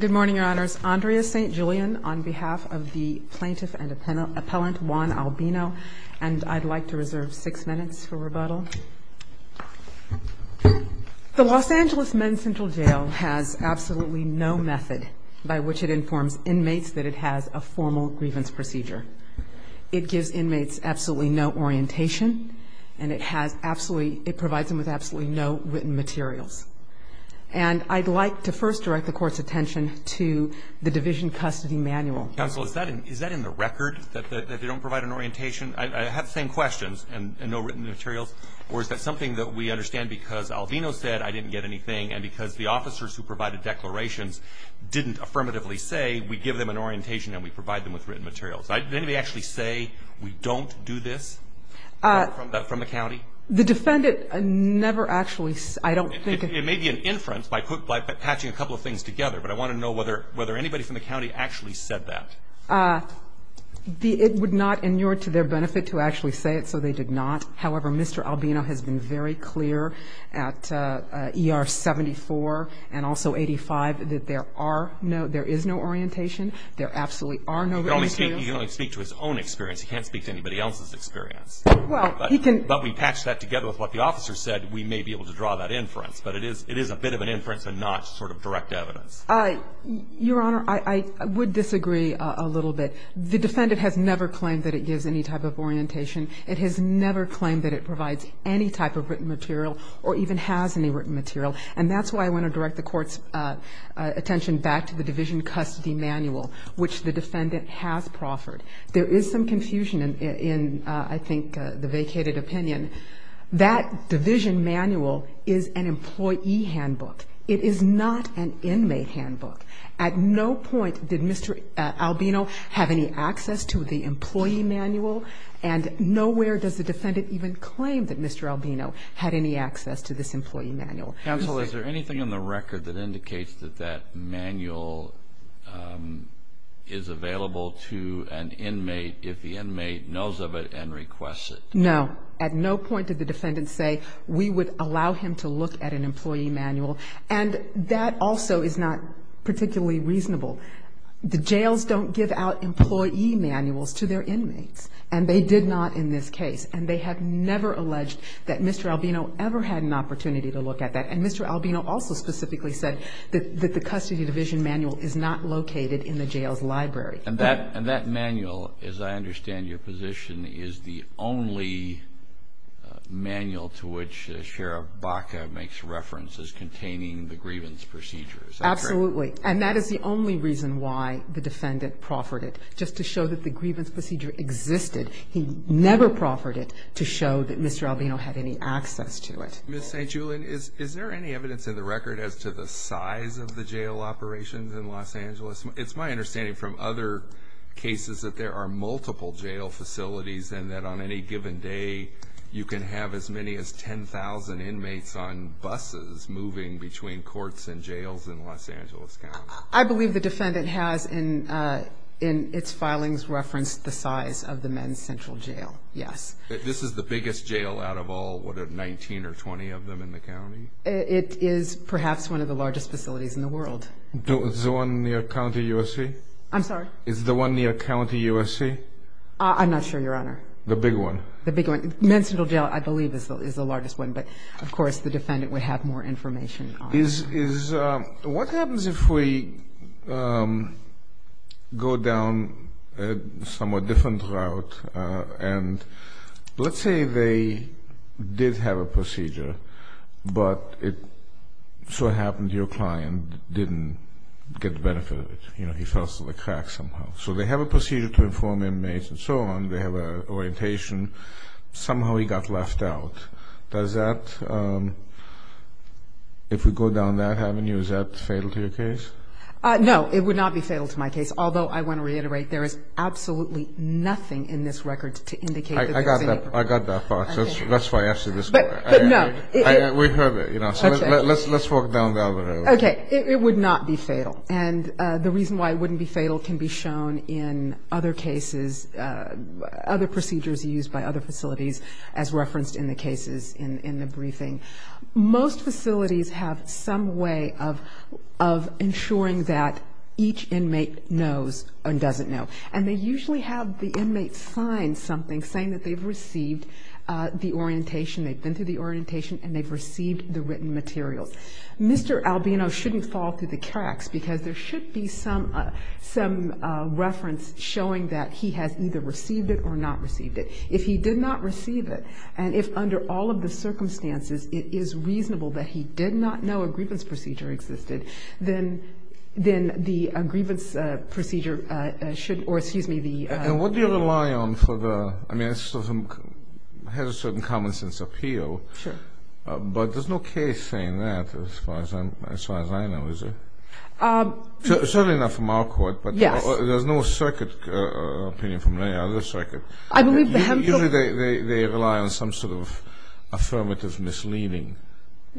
Good morning, Your Honors. Andrea St. Julian on behalf of the plaintiff and appellant Juan Albino, and I'd like to reserve six minutes for rebuttal. The Los Angeles Men's Central Jail has absolutely no method by which it informs inmates that it has a formal grievance procedure. It gives inmates absolutely no orientation, and it provides them with absolutely no written materials. And I'd like to first direct the Court's attention to the Division Custody Manual. Counsel, is that in the record, that they don't provide an orientation? I have the same questions, and no written materials. Or is that something that we understand because Albino said, I didn't get anything, and because the officers who provided declarations didn't affirmatively say, we give them an orientation and we provide them with written materials. Did anybody actually say, we don't do this from the county? The defendant never actually, I don't think. It may be an inference by attaching a couple of things together, but I want to know whether anybody from the county actually said that. It would not inure to their benefit to actually say it, so they did not. However, Mr. Albino has been very clear at ER 74 and also 85 that there is no orientation, there absolutely are no written materials. He can only speak to his own experience. He can't speak to anybody else's experience. But we patch that together with what the officer said, we may be able to draw that inference. But it is a bit of an inference and not sort of direct evidence. Your Honor, I would disagree a little bit. The defendant has never claimed that it gives any type of orientation. It has never claimed that it provides any type of written material or even has any written material. And that's why I want to direct the Court's attention back to the Division Custody Manual, which the defendant has proffered. There is some confusion in, I think, the vacated opinion. That Division Manual is an employee handbook. It is not an inmate handbook. At no point did Mr. Albino have any access to the employee manual, and nowhere does the defendant even claim that Mr. Albino had any access to this employee manual. Counsel, is there anything in the record that indicates that that manual is available to an inmate if the inmate knows of it and requests it? No. At no point did the defendant say, we would allow him to look at an employee manual. And that also is not particularly reasonable. The jails don't give out employee manuals to their inmates, and they did not in this case. And they have never alleged that Mr. Albino ever had an opportunity to look at that. And Mr. Albino also specifically said that the custody division manual is not located in the jail's library. And that manual, as I understand your position, is the only manual to which Sheriff Baca makes references containing the grievance procedure. Is that correct? Absolutely. And that is the only reason why the defendant proffered it, just to show that the grievance procedure existed. He never proffered it to show that Mr. Albino had any access to it. Ms. St. Julian, is there any evidence in the record as to the size of the jail operations in Los Angeles? It's my understanding from other cases that there are multiple jail facilities, and that on any given day you can have as many as 10,000 inmates on buses moving between courts and jails in Los Angeles County. I believe the defendant has in its filings referenced the size of the Men's Central Jail, yes. This is the biggest jail out of all, what, 19 or 20 of them in the county? It is perhaps one of the largest facilities in the world. Is it the one near County USC? I'm sorry? Is it the one near County USC? I'm not sure, Your Honor. The big one? The big one. Men's Central Jail, I believe, is the largest one. But, of course, the defendant would have more information on it. What happens if we go down a somewhat different route, and let's say they did have a procedure, but it so happens your client didn't get the benefit of it. He fell through the cracks somehow. So they have a procedure to inform inmates and so on. They have an orientation. Somehow he got left out. Does that, if we go down that avenue, is that fatal to your case? No, it would not be fatal to my case. Although, I want to reiterate, there is absolutely nothing in this record to indicate that there is any. I got that. I got that, Fox. That's why I asked you this question. But, no. We heard it, you know. Let's walk down the other avenue. Okay. It would not be fatal. And the reason why it wouldn't be fatal can be shown in other cases, other procedures used by other facilities as referenced in the cases in the briefing. Most facilities have some way of ensuring that each inmate knows and doesn't know. And they usually have the inmate sign something saying that they've received the orientation, they've been through the orientation, and they've received the written material. Mr. Albino shouldn't fall through the cracks, because there should be some reference showing that he has either received it or not received it. If he did not receive it, and if under all of the circumstances, it is reasonable that he did not know a grievance procedure existed, then the grievance procedure should, or, excuse me, the ---- And what do you rely on for the, I mean, it has a certain common sense appeal. Sure. But there's no case saying that as far as I know, is there? Certainly not from our court, but there's no circuit appeal from any other circuit. Usually they rely on some sort of affirmative misleading.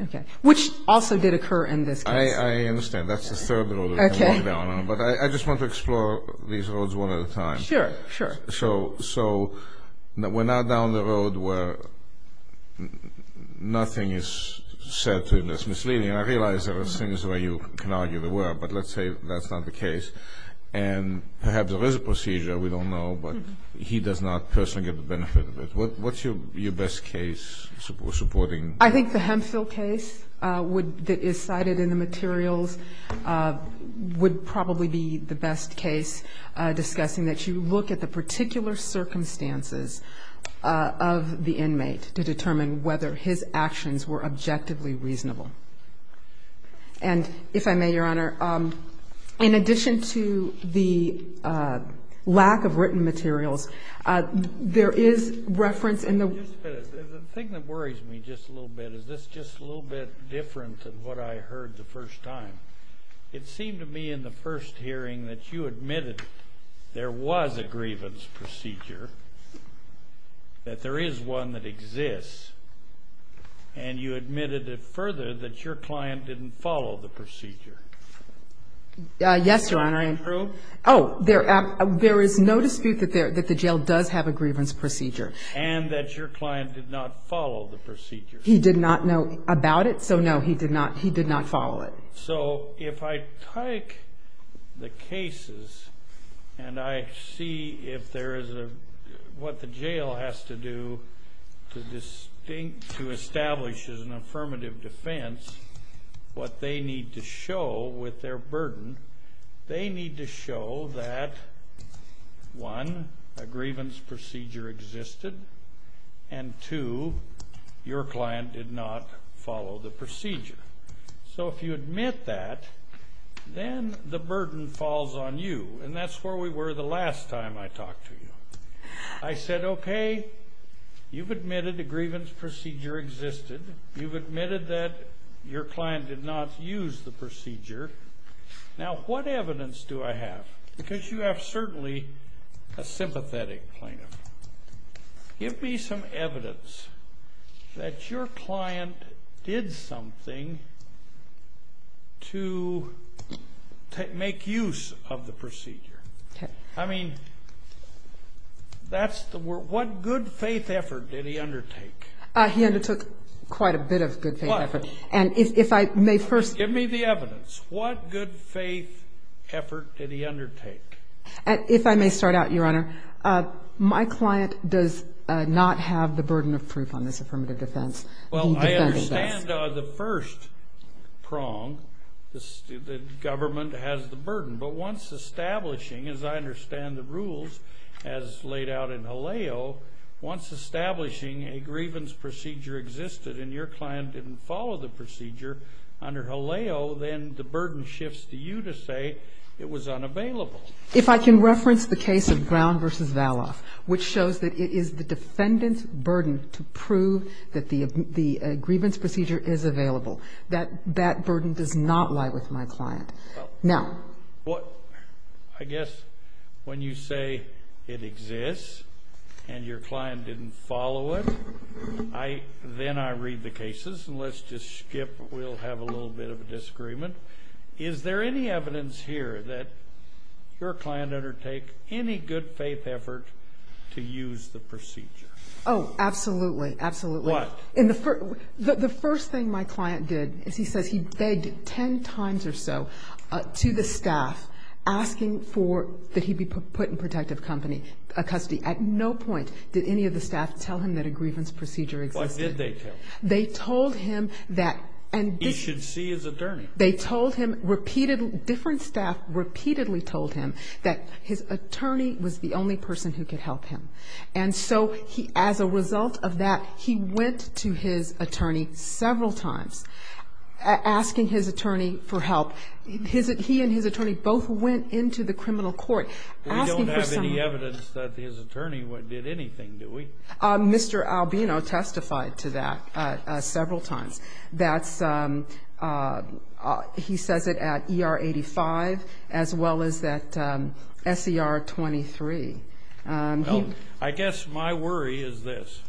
Okay. Which also did occur in this case. I understand. That's the third ---- Okay. But I just want to explore these roads one at a time. Sure, sure. So we're now down the road where nothing is said to that's misleading. I realize there are things where you can argue the word, but let's say that's not the case. And perhaps there is a procedure we don't know, but he does not personally get the benefit of it. What's your best case supporting? I think the Hempsville case that is cited in the materials would probably be the best case discussing that you look at the particular circumstances of the inmate to determine whether his actions were objectively reasonable. And if I may, Your Honor, in addition to the lack of written materials, there is reference in the ---- The thing that worries me just a little bit is this just a little bit different than what I heard the first time. It seemed to me in the first hearing that you admitted there was a grievance procedure, that there is one that exists, and you admitted it further that your client didn't follow the procedure. Yes, Your Honor. Is that true? Oh, there is no dispute that the jail does have a grievance procedure. And that your client did not follow the procedure. He did not know about it, so no, he did not follow it. So if I take the cases and I see if there is a ---- what the jail has to do to establish an affirmative defense, what they need to show with their burden, they need to show that, one, a grievance procedure existed, and two, your client did not follow the procedure. So if you admit that, then the burden falls on you. And that's where we were the last time I talked to you. I said, okay, you've admitted a grievance procedure existed. You've admitted that your client did not use the procedure. Now, what evidence do I have? Because you have certainly a sympathetic plaintiff. Give me some evidence that your client did something to make use of the procedure. I mean, that's the word. What good faith effort did he undertake? He undertook quite a bit of good faith effort. First, give me the evidence. What good faith effort did he undertake? If I may start out, Your Honor, my client does not have the burden of proof on this affirmative defense. Well, I understand the first prong, the government has the burden. But once establishing, as I understand the rules as laid out in Haleo, once establishing a grievance procedure existed and your client didn't follow the procedure under Haleo, then the burden shifts to you to say it was unavailable. If I can reference the case of Brown v. Zala, which shows that it is the defendant's burden to prove that the grievance procedure is available. That burden does not lie with my client. Well, I guess when you say it exists and your client didn't follow it, then I read the cases, and let's just skip, we'll have a little bit of a disagreement. Is there any evidence here that your client undertook any good faith effort to use the procedure? Oh, absolutely, absolutely. What? The first thing my client did, he said he begged 10 times or so to the staff asking for, that he be put in protective company, a custody. At no point did any of the staff tell him that a grievance procedure existed. What did they tell him? They told him that. He should see his attorney. They told him repeatedly, different staff repeatedly told him that his attorney was the only person who could help him. And so as a result of that, he went to his attorney several times asking his attorney for help. He and his attorney both went into the criminal court. We don't have any evidence that his attorney did anything, do we? Mr. Albino testified to that several times. He says it at ER 85 as well as at SER 23. I guess my worry is this.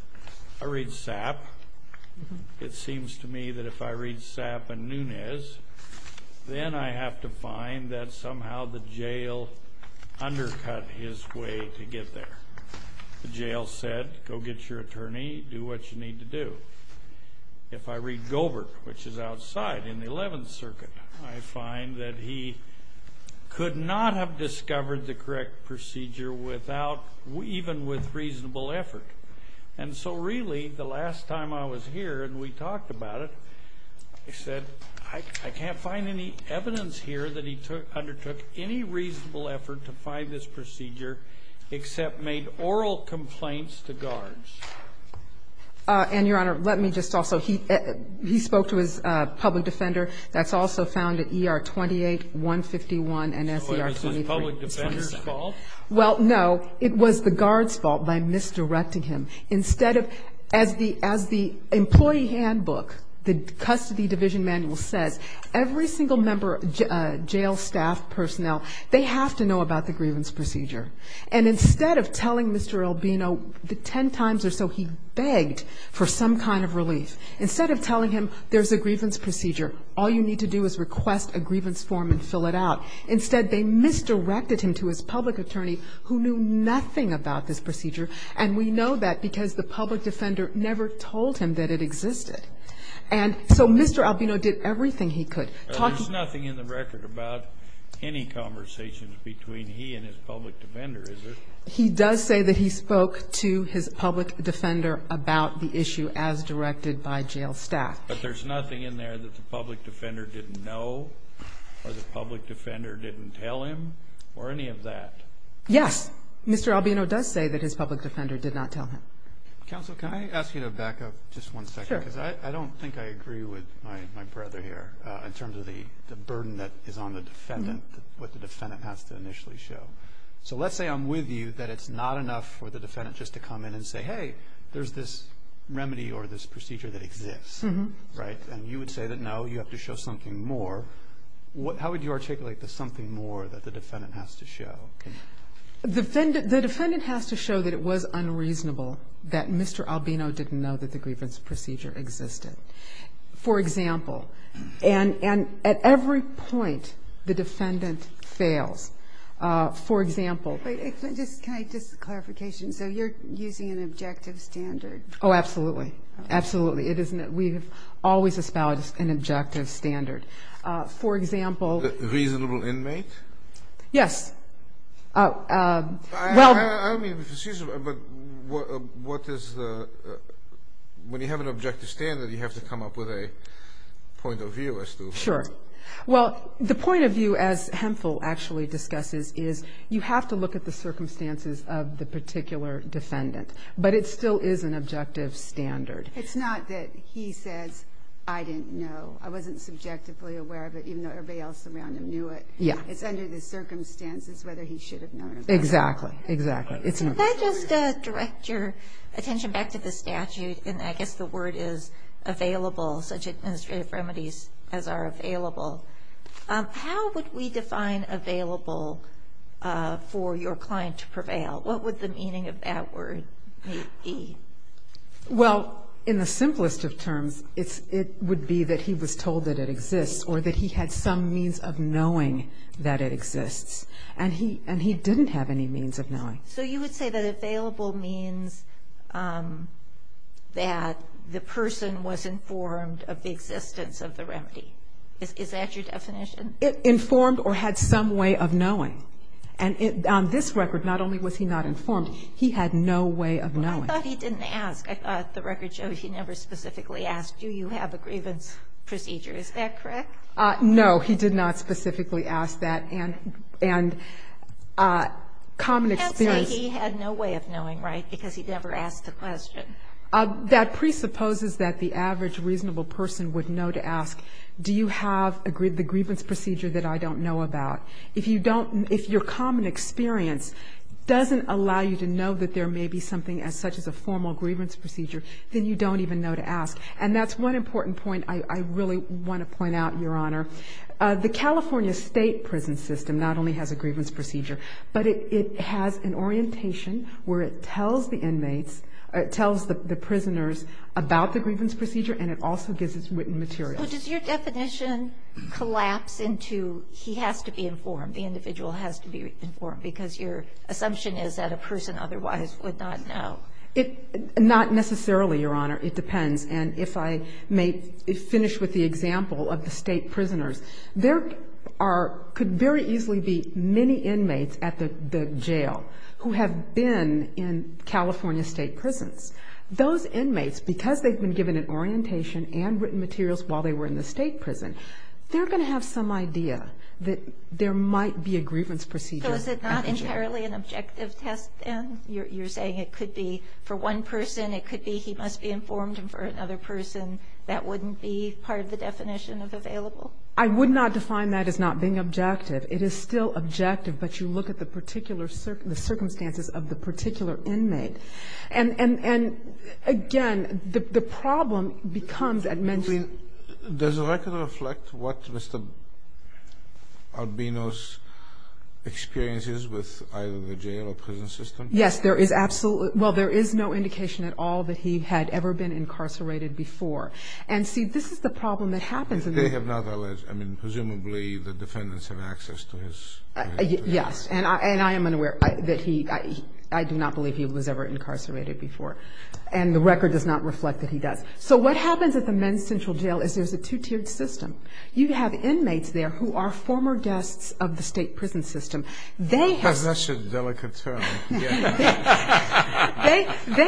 I read Sapp. It seems to me that if I read Sapp and Nunes, then I have to find that somehow the jail undercut his way to get there. The jail said, go get your attorney, do what you need to do. If I read Gobert, which is outside in the 11th Circuit, I find that he could not have discovered the correct procedure even with reasonable effort. And so really, the last time I was here and we talked about it, he said, I can't find any evidence here that he undertook any reasonable effort to find this procedure except made oral complaints to guards. And, Your Honor, let me just also, he spoke to his public defender. That's also found at ER 28, 161 and SER 23. Was the public defender's fault? Well, no. It was the guard's fault by misdirecting him. Instead of, as the employee handbook, the custody division manual said, every single member, jail staff, personnel, they have to know about the grievance procedure. And instead of telling Mr. Albino, the ten times or so he begged for some kind of relief, instead of telling him there's a grievance procedure, all you need to do is request a grievance form and fill it out, instead they misdirected him to his public attorney who knew nothing about this procedure. And we know that because the public defender never told him that it existed. And so Mr. Albino did everything he could. There's nothing in the record about any conversations between he and his public defender, is there? He does say that he spoke to his public defender about the issue as directed by jail staff. But there's nothing in there that the public defender didn't know or the public defender didn't tell him or any of that? Yes. Mr. Albino does say that his public defender did not tell him. Counsel, can I ask you to back up just one second? Sure. Because I don't think I agree with my brother here in terms of the burden that is on the defendant, what the defendant has to initially show. So let's say I'm with you that it's not enough for the defendant just to come in and say, hey, there's this remedy or this procedure that exists, right? And you would say that, no, you have to show something more. How would you articulate the something more that the defendant has to show? The defendant has to show that it was unreasonable that Mr. Albino didn't know that the grievance procedure existed. For example, and at every point the defendant fails. For example. Just a clarification. So you're using an objective standard? Oh, absolutely. Absolutely. We have always established an objective standard. For example. Reasonable inmate? Yes. I mean, excuse me, but when you have an objective standard, you have to come up with a point of view. Sure. Well, the point of view, as Hensel actually discusses, is you have to look at the circumstances of the particular defendant. But it still is an objective standard. It's not that he said, I didn't know. I wasn't subjectively aware of it, even though everybody else around him knew it. Yeah. It's under the circumstances whether he should have known or not. Exactly. Exactly. Can I just direct your attention back to the statute? And I guess the word is available, such administrative remedies as are available. How would we define available for your client to prevail? What would the meaning of that word be? Well, in the simplest of terms, it would be that he was told that it exists or that he had some means of knowing that it exists. And he didn't have any means of knowing. So you would say that available means that the person was informed of the existence of the remedy. Is that your definition? Informed or had some way of knowing. And on this record, not only was he not informed, he had no way of knowing. I thought he didn't ask. I thought the record showed he never specifically asked, do you have a grievance procedure. Is that correct? No, he did not specifically ask that. And common experience. You can't say he had no way of knowing, right, because he never asked the question. That presupposes that the average reasonable person would know to ask, do you have the grievance procedure that I don't know about? If your common experience doesn't allow you to know that there may be something as such as a formal grievance procedure, then you don't even know to ask. And that's one important point I really want to point out, Your Honor. The California state prison system not only has a grievance procedure, but it has an orientation where it tells the inmates, it tells the prisoners about the grievance procedure and it also gives its written materials. So does your definition collapse into he has to be informed, the individual has to be informed, because your assumption is that a person otherwise would not know? Not necessarily, Your Honor. It depends. And if I may finish with the example of the state prisoners, there could very easily be many inmates at the jail who have been in California state prisons. Those inmates, because they've been given an orientation and written materials while they were in the state prison, they're going to have some idea that there might be a grievance procedure. So is it not entirely an objective test, then? You're saying it could be for one person, it could be he must be informed, and for another person that wouldn't be part of the definition of available? I would not define that as not being objective. It is still objective, but you look at the particular circumstances of the particular inmate. And, again, the problem becomes at mentioning. Does the record reflect what Mr. Albino's experience is with either the jail or prison system? Yes, there is absolutely no indication at all that he had ever been incarcerated before. And, see, this is the problem that happens. I mean, presumably the defendants have access to his prison records. Yes, and I am unaware that he, I do not believe he was ever incarcerated before. And the record does not reflect that he does. So what happens at the men's central jail is there's a two-tiered system. You have inmates there who are former guests of the state prison system. That's a delicate term. They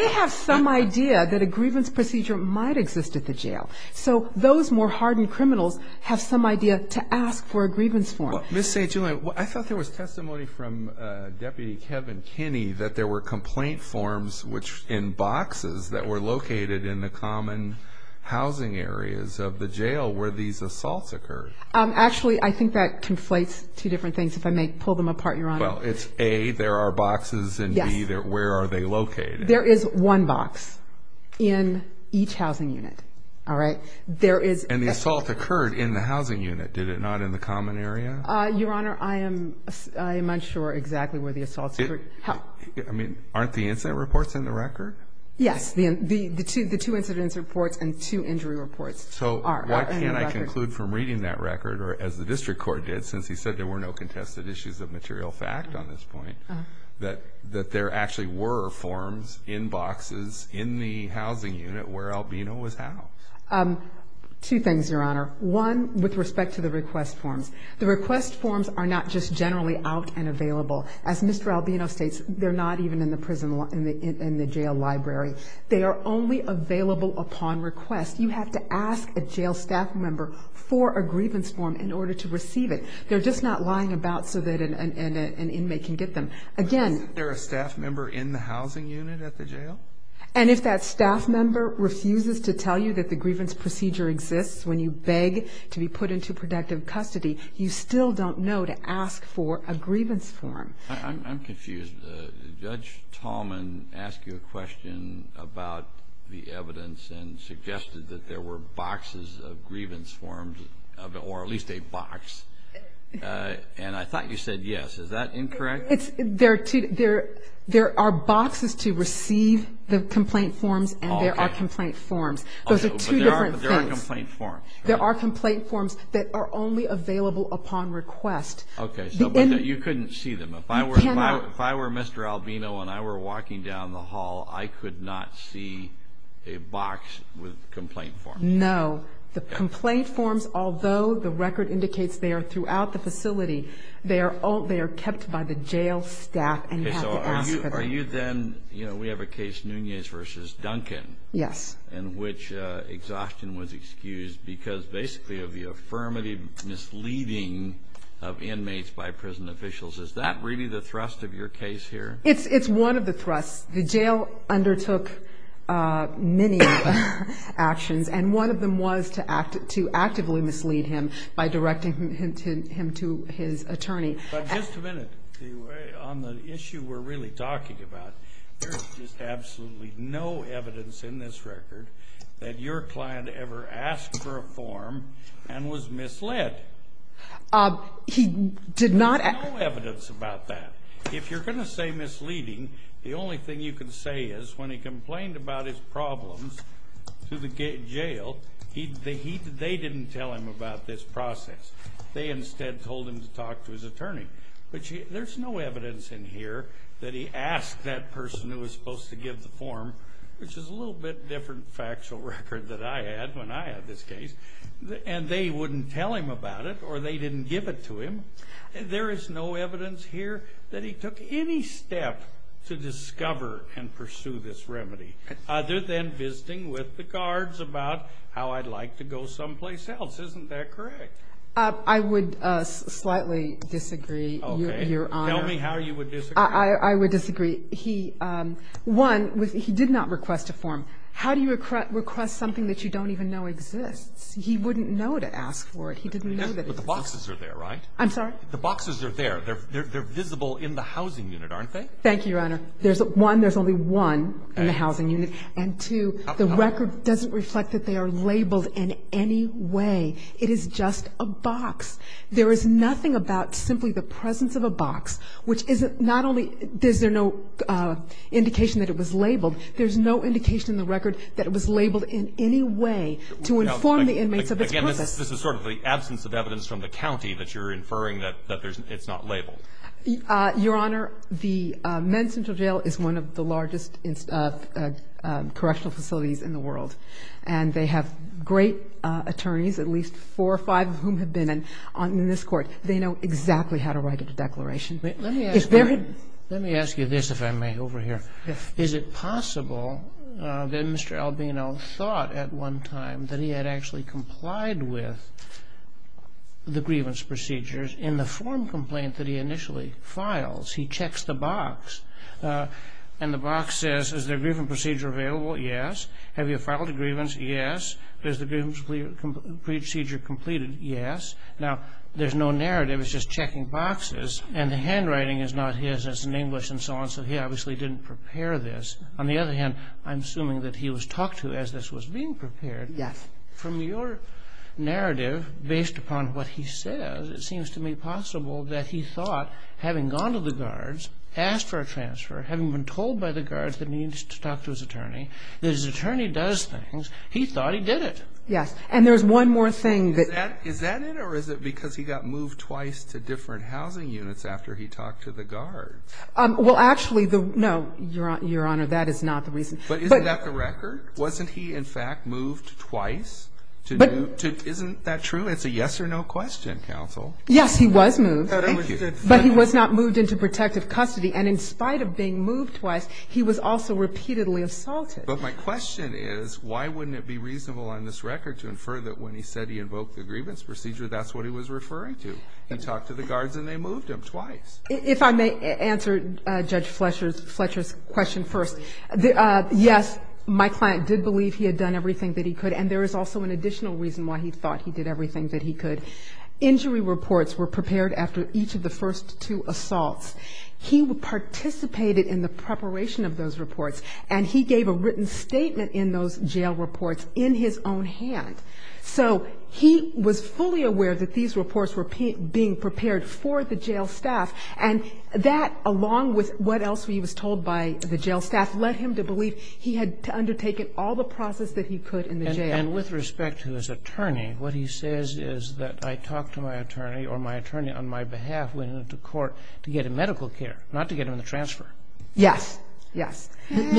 have some idea that a grievance procedure might exist at the jail. So those more hardened criminals have some idea to ask for a grievance form. Well, Ms. St. Julian, I thought there was testimony from Deputy Kevin Kinney that there were complaint forms in boxes that were located in the common housing areas of the jail where these assaults occurred. Actually, I think that conflates two different things. If I may pull them apart, Your Honor. Well, it's A, there are boxes, and B, where are they located? There is one box in each housing unit. And the assault occurred in the housing unit, did it not, in the common area? Your Honor, I am unsure exactly where the assault occurred. Aren't the incident reports in the record? Yes, the two incident reports and two injury reports are in the record. So why can't I conclude from reading that record, or as the district court did, since he said there were no contested issues of material fact on this point, that there actually were forms in boxes in the housing unit where Albina was housed? Two things, Your Honor. One, with respect to the request forms. The request forms are not just generally out and available. As Mr. Albina states, they're not even in the jail library. They are only available upon request. You have to ask a jail staff member for a grievance form in order to receive it. They're just not lying about so that an inmate can get them. Again, is there a staff member in the housing unit at the jail? And if that staff member refuses to tell you that the grievance procedure exists when you beg to be put into protective custody, you still don't know to ask for a grievance form. I'm confused. Judge Tallman asked you a question about the evidence and suggested that there were boxes of grievance forms, or at least a box. And I thought you said yes. Is that incorrect? There are boxes to receive the complaint forms, and there are complaint forms. There are complaint forms. There are complaint forms that are only available upon request. Okay, so you couldn't see them. If I were Mr. Albino and I were walking down the hall, I could not see a box with complaint forms. No. The complaint forms, although the record indicates they are throughout the facility, they are kept by the jail staff. Okay, so are you then, you know, we have a case, Nunez v. Duncan. Yes. In which exhaustion was excused because, basically, of the affirmative misleading of inmates by prison officials. Is that really the thrust of your case here? It's one of the thrusts. The jail undertook many actions, and one of them was to actively mislead him by directing him to his attorney. But just a minute. On the issue we're really talking about, there's just absolutely no evidence in this record that your client ever asked for a form and was misled. He did not. There's no evidence about that. If you're going to say misleading, the only thing you can say is when he complained about his problems to the jail, they didn't tell him about this process. They instead told him to talk to his attorney. But there's no evidence in here that he asked that person who was supposed to give the form, which is a little bit different factual record than I had when I had this case, and they wouldn't tell him about it or they didn't give it to him. There is no evidence here that he took any step to discover and pursue this remedy, other than visiting with the guards about how I'd like to go someplace else. Isn't that correct? I would slightly disagree, Your Honor. Tell me how you would disagree. I would disagree. One, he did not request a form. How do you request something that you don't even know exists? He wouldn't know to ask for it. The boxes are there, right? I'm sorry? The boxes are there. They're visible in the housing unit, aren't they? Thank you, Your Honor. One, there's only one in the housing unit, and two, the record doesn't reflect that they are labeled in any way. It is just a box. There is nothing about simply the presence of a box, which not only is there no indication that it was labeled, there's no indication in the record that it was labeled in any way to inform the inmates of its purpose. Again, this is sort of the absence of evidence from the county that you're inferring that it's not labeled. Your Honor, the MedCentral Jail is one of the largest correctional facilities in the world, and they have great attorneys, at least four or five of whom have been in this court. They know exactly how to write a declaration. Let me ask you this, if I may, over here. Is it possible that Mr. Albino thought at one time that he had actually complied with the grievance procedures in the form complaint that he initially files? He checks the box, and the box says, is the grievance procedure available? Yes. Have you filed a grievance? Yes. Has the grievance procedure completed? Yes. Now, there's no narrative. It's just checking boxes, and the handwriting is not his. It's in English and so on, so he obviously didn't prepare this. On the other hand, I'm assuming that he was talked to as this was being prepared. Yes. From your narrative, based upon what he says, it seems to me possible that he thought, having gone to the guards, asked for a transfer, having been told by the guards that he needs to talk to his attorney, his attorney does things, he thought he did it. Yes. And there's one more thing. Is that it, or is it because he got moved twice to different housing units after he talked to the guards? Well, actually, no, Your Honor, that is not the reason. But isn't that the record? Wasn't he, in fact, moved twice? Isn't that true? It's a yes or no question, counsel. Yes, he was moved. Thank you. But he was not moved into protective custody, and in spite of being moved twice, he was also repeatedly assaulted. But my question is, why wouldn't it be reasonable on this record to infer that when he said he invoked the grievance procedure, that's what he was referring to, and talked to the guards and they moved him twice? If I may answer Judge Fletcher's question first, yes, my client did believe he had done everything that he could, and there is also an additional reason why he thought he did everything that he could. Injury reports were prepared after each of the first two assaults. He participated in the preparation of those reports, and he gave a written statement in those jail reports in his own hand. So he was fully aware that these reports were being prepared for the jail staff, and that, along with what else he was told by the jail staff, led him to believe he had undertaken all the process that he could in the jail. And with respect to his attorney, what he says is that I talked to my attorney, or my attorney on my behalf, with him to court to get him medical care, not to get him the transfer. Yes, yes. And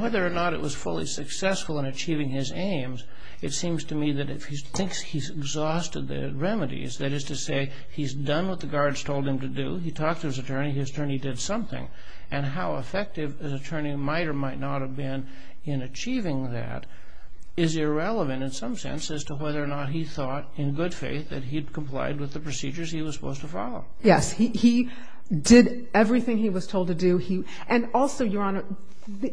whether or not it was fully successful in achieving his aims, it seems to me that if he thinks he's exhausted the remedies, that is to say he's done what the guards told him to do, he talked to his attorney, his attorney did something, and how effective his attorney might or might not have been in achieving that is irrelevant in some sense as to whether or not he thought in good faith that he'd complied with the procedures he was supposed to follow. Yes, he did everything he was told to do. And also, Your Honor,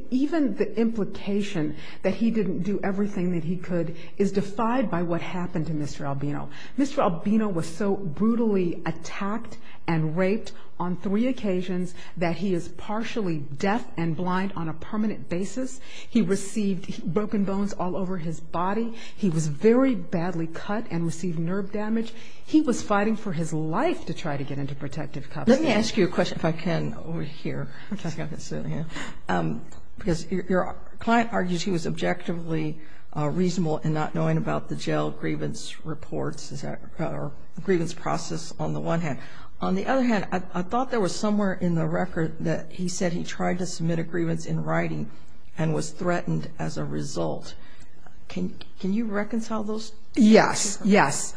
even the implication that he didn't do everything that he could is defied by what happened to Mr. Albino. Mr. Albino was so brutally attacked and raped on three occasions that he is partially deaf and blind on a permanent basis. He received broken bones all over his body. He was very badly cut and received nerve damage. He was fighting for his life to try to get into protective custody. Let me ask you a question, if I can, over here. I'm talking about this other hand. Because your client argues he was objectively reasonable in not knowing about the jail grievance reports or grievance process on the one hand. On the other hand, I thought there was somewhere in the record that he said he tried to submit a grievance in writing and was threatened as a result. Can you reconcile those? Yes, yes.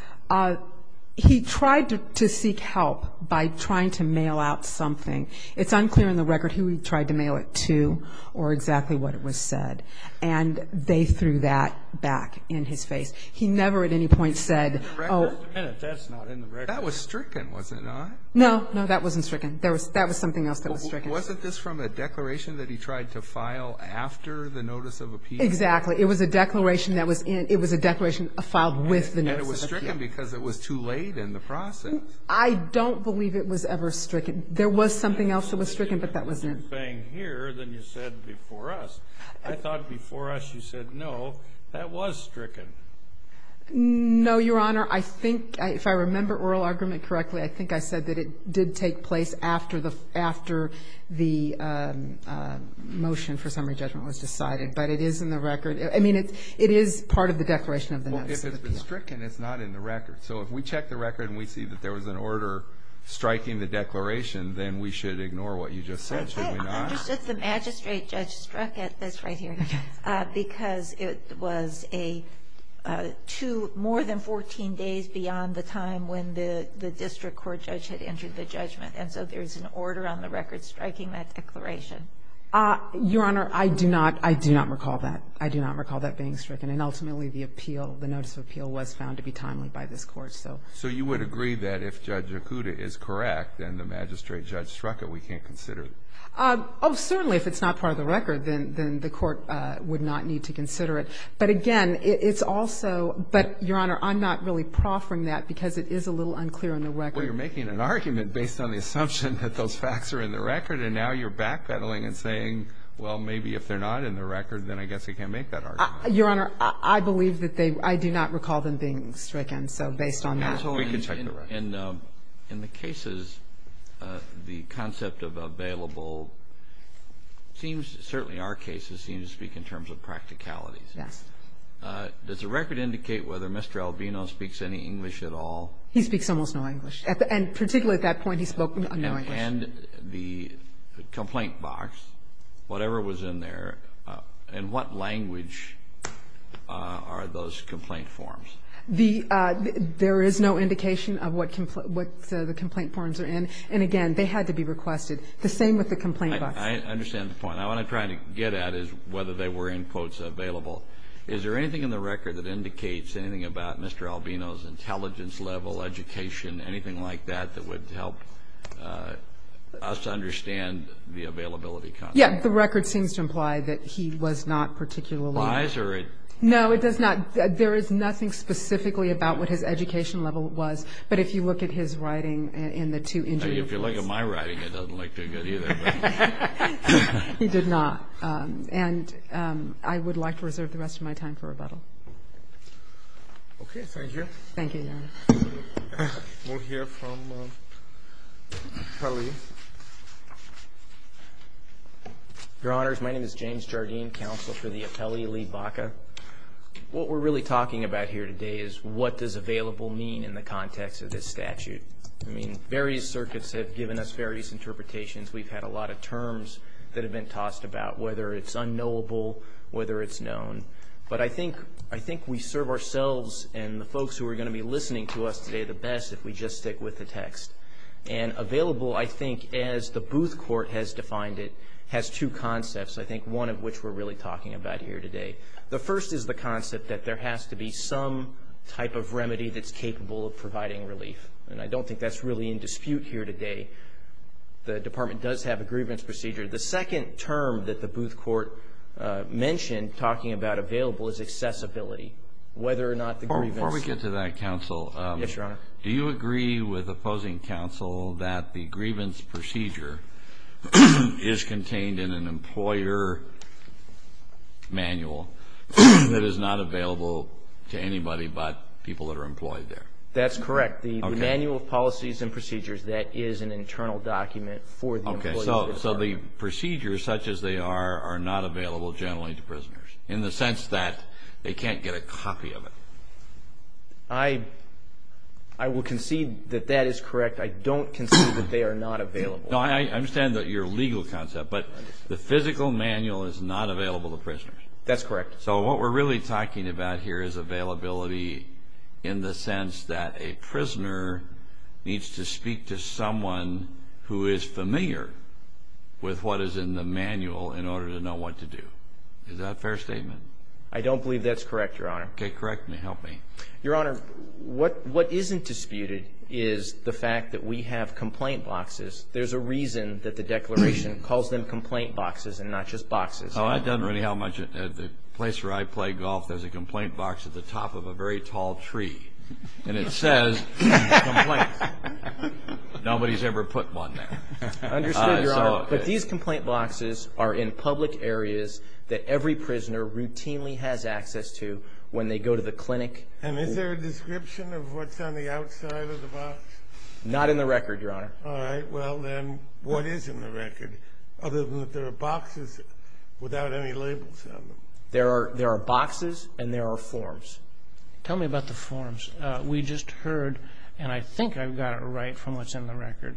He tried to seek help by trying to mail out something. It's unclear in the record who he tried to mail it to or exactly what was said. And they threw that back in his face. He never at any point said, oh. That's not in the record. That was stricken, was it not? No, that wasn't stricken. That was something else that was stricken. Wasn't this from a declaration that he tried to file after the notice of appeal? Exactly. It was a declaration that was in. It was a declaration filed with the notice of appeal. And it was stricken because it was too late in the process. I don't believe it was ever stricken. There was something else that was stricken, but that wasn't it. You're saying here that you said before us. I thought before us you said, no, that was stricken. No, Your Honor. I think if I remember oral argument correctly, I think I said that it did take place after the motion for summary judgment was decided. But it is in the record. I mean, it is part of the declaration of the notice. Well, if it's been stricken, it's not in the record. So if we check the record and we see that there was an order striking the declaration, then we should ignore what you just said, should we not? Just the magistrate judge struck it. That's right here. Because it was more than 14 days beyond the time when the district court judge had entered the judgment. And so there's an order on the record striking that declaration. Your Honor, I do not recall that. I do not recall that being stricken. And ultimately, the appeal, the notice of appeal was found to be timely by this court. So you would agree that if Judge Okuda is correct and the magistrate judge struck it, we can't consider it? Oh, certainly. If it's not part of the record, then the court would not need to consider it. But, again, it's also – but, Your Honor, I'm not really proffering that because it is a little unclear in the record. Well, you're making an argument based on the assumption that those facts are in the record, and now you're backpedaling and saying, well, maybe if they're not in the record, then I guess we can't make that argument. Your Honor, I believe that they – I do not recall them being stricken. So based on that whole – In the cases, the concept of available seems – certainly our cases seem to speak in terms of practicalities. Yes. Does the record indicate whether Mr. Albino speaks any English at all? He speaks almost no English. And particularly at that point, he spoke no English. And the complaint box, whatever was in there, in what language are those complaint forms? The – there is no indication of what the complaint forms are in. And, again, they had to be requested. The same with the complaint box. I understand the point. Now, what I'm trying to get at is whether they were, in quotes, available. Is there anything in the record that indicates anything about Mr. Albino's intelligence level, education, and anything like that that would help us understand the availability concept? Yes. The record seems to imply that he was not particularly – Wise or – No, it does not – there is nothing specifically about what his education level was. But if you look at his writing in the two interviews – If you look at my writing, it doesn't look too good either. He did not. And I would like to reserve the rest of my time for rebuttal. Okay. Thank you, Your Honor. Thank you, Your Honor. We'll hear from Khalil. Your Honors, my name is James Jardine, Counsel for the Appellee, Lee Baca. What we're really talking about here today is what does available mean in the context of this statute? I mean, various circuits have given us various interpretations. We've had a lot of terms that have been tossed about, whether it's unknowable, whether it's known. But I think we serve ourselves and the folks who are going to be listening to us today the best if we just stick with the text. And available, I think, as the Booth Court has defined it, has two concepts, I think one of which we're really talking about here today. The first is the concept that there has to be some type of remedy that's capable of providing relief. And I don't think that's really in dispute here today. The Department does have a grievance procedure. The second term that the Booth Court mentioned, talking about available, is accessibility, whether or not the grievance. Before we get to that, Counsel. Yes, Your Honor. Do you agree with opposing counsel that the grievance procedure is contained in an employer manual that is not available to anybody but people that are employed there? That's correct. The Manual of Policies and Procedures, that is an internal document for the employee. So the procedures, such as they are, are not available generally to prisoners, in the sense that they can't get a copy of it. I will concede that that is correct. I don't concede that they are not available. No, I understand your legal concept. But the physical manual is not available to prisoners. That's correct. So what we're really talking about here is availability in the sense that a prisoner needs to speak to someone who is familiar with what is in the manual in order to know what to do. Is that a fair statement? I don't believe that's correct, Your Honor. Okay, correct me. Help me. Your Honor, what isn't disputed is the fact that we have complaint boxes. There's a reason that the Declaration calls them complaint boxes and not just boxes. The place where I play golf, there's a complaint box at the top of a very tall tree, and it says complaint. Nobody's ever put one there. I understand, Your Honor, but these complaint boxes are in public areas that every prisoner routinely has access to when they go to the clinic. And is there a description of what's on the outside of the box? Not in the record, Your Honor. All right, well then, what is in the record? Other than that there are boxes without any labels on them. There are boxes and there are forms. Tell me about the forms. We just heard, and I think I've got it right from what's in the record,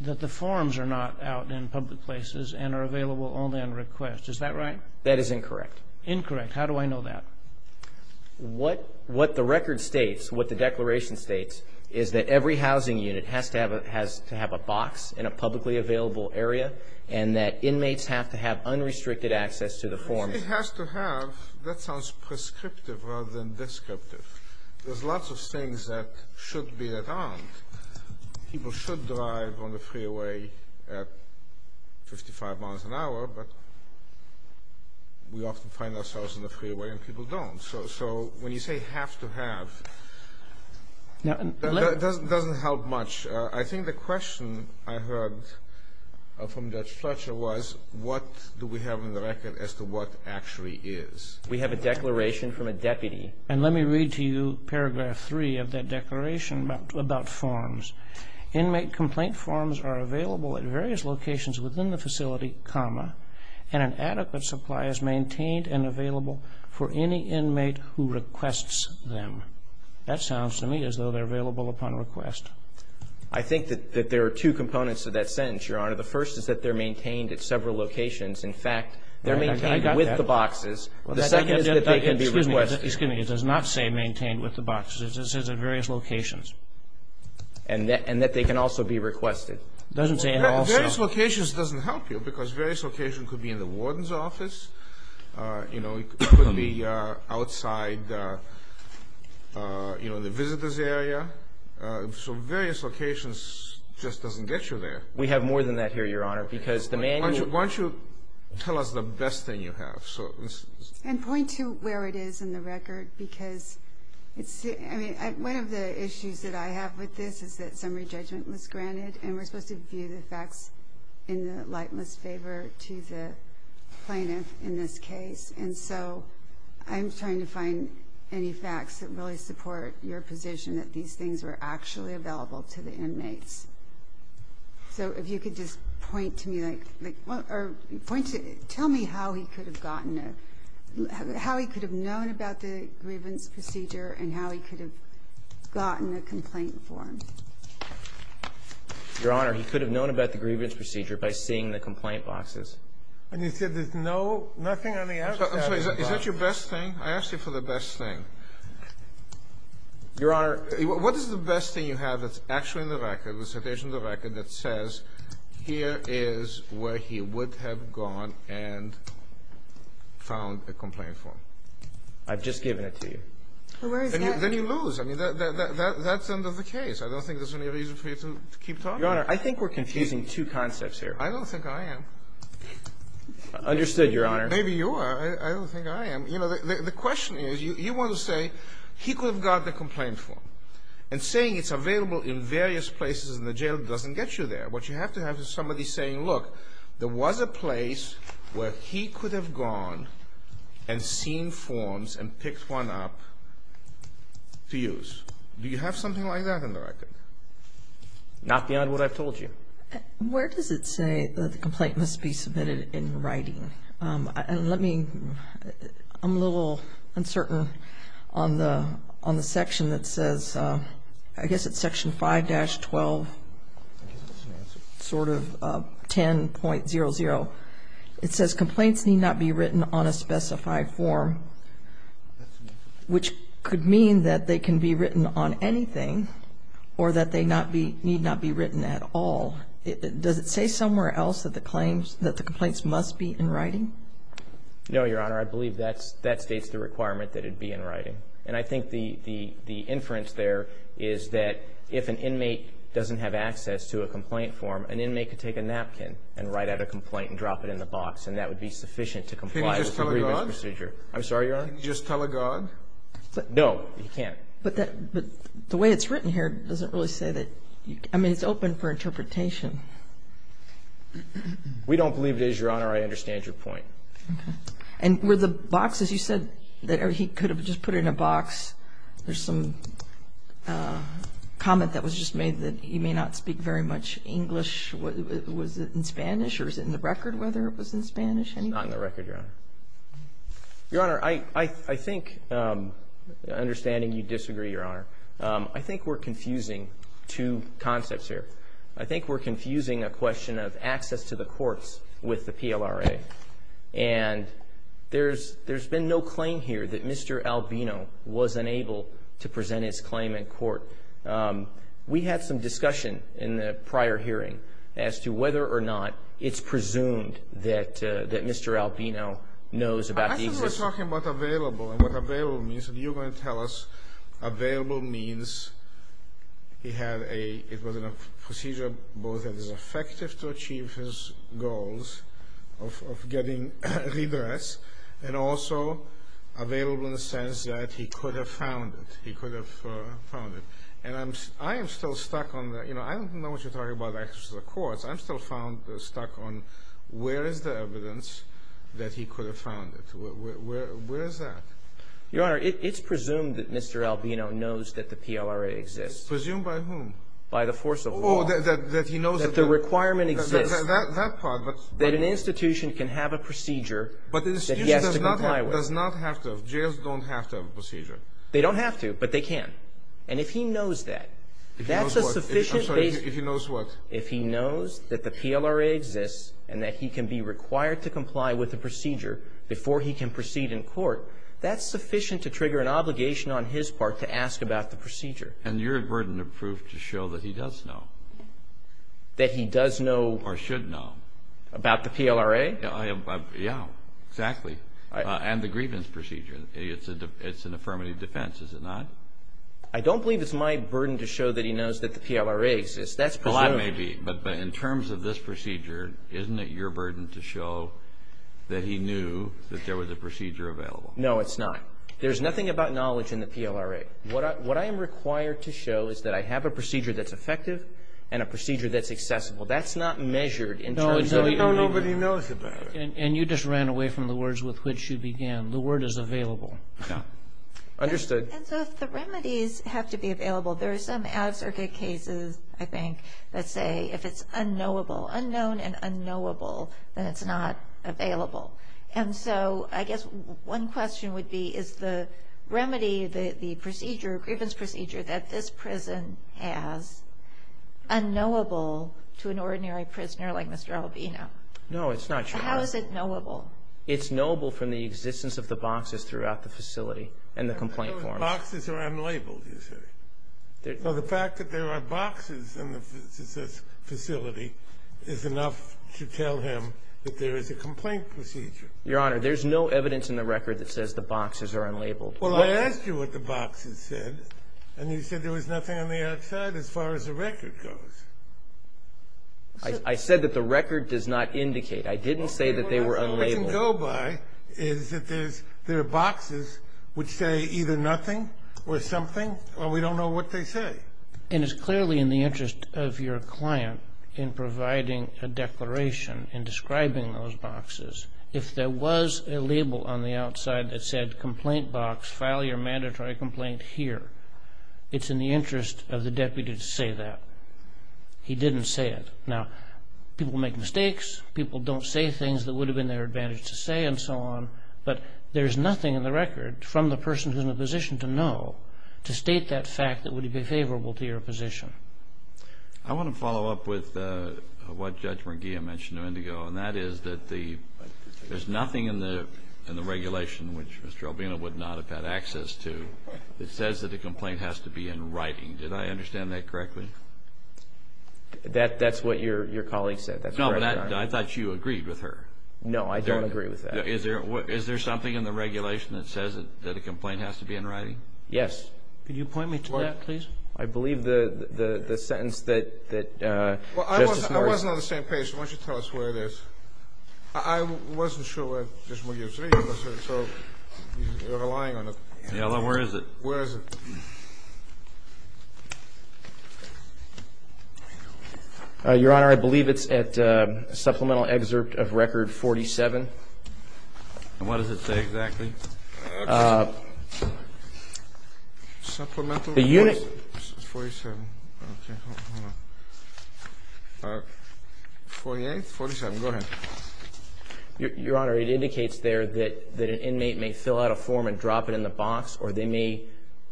that the forms are not out in public places and are available only on request. Is that right? That is incorrect. Incorrect. How do I know that? What the record states, what the Declaration states, is that every housing unit has to have a box in a publicly available area and that inmates have to have unrestricted access to the forms. It has to have? That sounds prescriptive rather than descriptive. There's lots of things that should be allowed. People should drive on the freeway at 55 miles an hour, but we often find ourselves on the freeway and people don't. So when you say it has to have, that doesn't help much. I think the question I heard from Judge Fletcher was, what do we have in the record as to what actually is? We have a declaration from a deputy. Let me read to you paragraph 3 of that declaration about forms. Inmate complaint forms are available at various locations within the facility, and an adequate supply is maintained and available for any inmate who requests them. That sounds to me as though they're available upon request. I think that there are two components to that sentence, Your Honor. The first is that they're maintained at several locations. In fact, they're maintained with the boxes. The second is that they can be requested. Excuse me, it does not say maintained with the boxes. It says at various locations. And that they can also be requested. It doesn't say at all. Various locations doesn't help you because various locations could be in the warden's office. It could be outside the visitor's area. So various locations just doesn't get you there. We have more than that here, Your Honor. Why don't you tell us the best thing you have. And point to where it is in the record because one of the issues that I have with this is that summary judgment was granted and we're supposed to view the facts in the lightness favor to the plaintiff in this case. And so I'm trying to find any facts that really support your position that these things were actually available to the inmates. So if you could just point to me or tell me how he could have gotten this, Your Honor, he could have known about the grievance procedure by seeing the complaint boxes. And you said there's nothing on the advertising box. Is this your best thing? I asked you for the best thing. Your Honor. What is the best thing you have that's actually in the record, that's in the record that says here is where he would have gone and found the complaint form? I've just given it to you. Then you lose. That's under the case. I don't think there's any reason for you to keep talking. Your Honor, I think we're confusing two concepts here. I don't think I am. Understood, Your Honor. Maybe you are. I don't think I am. The question is you want to say he could have got the complaint form and saying it's available in various places in the jail doesn't get you there. What you have to have is somebody saying, Look, there was a place where he could have gone and seen forms and picked one up to use. Do you have something like that in the record? Not beyond what I've told you. Where does it say the complaint must be submitted in writing? I'm a little uncertain on the section that says, I guess it's section 5-12, sort of 10.00. It says complaints need not be written on a specified form, which could mean that they can be written on anything or that they need not be written at all. Does it say somewhere else that the complaints must be in writing? No, Your Honor. I believe that states the requirement that it be in writing. And I think the inference there is that if an inmate doesn't have access to a complaint form, an inmate could take a napkin and write out a complaint and drop it in the box, and that would be sufficient to comply with the grievance procedure. Can he just telegogue? I'm sorry, Your Honor? Can he just telegogue? No, he can't. But the way it's written here doesn't really say that. I mean, it's open for interpretation. We don't believe it is, Your Honor. I understand your point. And were the boxes, you said that he could have just put it in a box. There's some comment that was just made that he may not speak very much English. Was it in Spanish? Or is it in the record whether it was in Spanish? It's not in the record, Your Honor. Your Honor, I think, understanding you disagree, Your Honor, I think we're confusing two concepts here. I think we're confusing a question of access to the courts with the PLRA. And there's been no claim here that Mr. Albino was unable to present his claim in court. We had some discussion in the prior hearing as to whether or not it's presumed that Mr. Albino knows about the existence. I think we're talking about available and what available means. And you're going to tell us available means he had a procedure both that was effective to achieve his goals of getting redress and also available in the sense that he could have found it. He could have found it. And I'm still stuck on that. I don't know what you're talking about access to the courts. I'm still stuck on where is the evidence that he could have found it. Where is that? Your Honor, it's presumed that Mr. Albino knows that the PLRA exists. Presumed by whom? By the force of law. Oh, that he knows that the requirement exists. That part. That an institution can have a procedure. But the institution does not have to. Jails don't have to have a procedure. They don't have to, but they can. And if he knows that. If he knows what? If he knows that the PLRA exists and that he can be required to comply with the procedure before he can proceed in court, that's sufficient to trigger an obligation on his part to ask about the procedure. And you're burdened with proof to show that he does know. That he does know. Or should know. About the PLRA? Yeah, exactly. And the grievance procedure. It's an affirmative defense, is it not? I don't believe it's my burden to show that he knows that the PLRA exists. It may be. But in terms of this procedure, isn't it your burden to show that he knew that there was a procedure available? No, it's not. There's nothing about knowledge in the PLRA. What I am required to show is that I have a procedure that's effective and a procedure that's accessible. That's not measured in terms of how nobody knows about it. And you just ran away from the words with which you began. The word is available. Yeah. Understood. And so the remedies have to be available. There are some absurd cases, I think, that say if it's unknowable, unknown and unknowable, then it's not available. And so I guess one question would be, is the remedy, the procedure, the grievance procedure that this prison has, unknowable to an ordinary prisoner like Mr. Albino? No, it's not. How is it knowable? It's knowable from the existence of the boxes throughout the facility and the complaint forms. Boxes are unlabeled, you say? Well, the fact that there are boxes in this facility is enough to tell him that there is a complaint procedure. Your Honor, there's no evidence in the record that says the boxes are unlabeled. Well, I asked you what the boxes said, and you said there was nothing on the outside as far as the record goes. I said that the record does not indicate. I didn't say that they were unlabeled. What we can go by is that there are boxes which say either nothing or something, but we don't know what they say. And it's clearly in the interest of your client in providing a declaration and describing those boxes. If there was a label on the outside that said, complaint box, file your mandatory complaint here, it's in the interest of the deputy to say that. He didn't say it. Now, people make mistakes, people don't say things that would have been their advantage to say and so on, but there's nothing in the record from the person who's in a position to know to state that fact that would be favorable to your position. I want to follow up with what Judge McGeehan mentioned a minute ago, and that is that there's nothing in the regulation, which Mr. Albino would not have had access to, that says that a complaint has to be in writing. Did I understand that correctly? That's what your colleague said. No, but I thought you agreed with her. No, I don't agree with that. Is there something in the regulation that says that a complaint has to be in writing? Yes. Can you point me to that, please? I believe the sentence that... Well, I wasn't on the same page. Why don't you tell us where it is? I wasn't sure where Judge McGeehan was, so you're relying on a... Yeah, well, where is it? Where is it? Your Honor, I believe it's at Supplemental Excerpt of Record 47. What does it say? Exactly. Supplemental Excerpt 47. 48, 47. Go ahead. Your Honor, it indicates there that an inmate may fill out a form and drop it in the box, or they may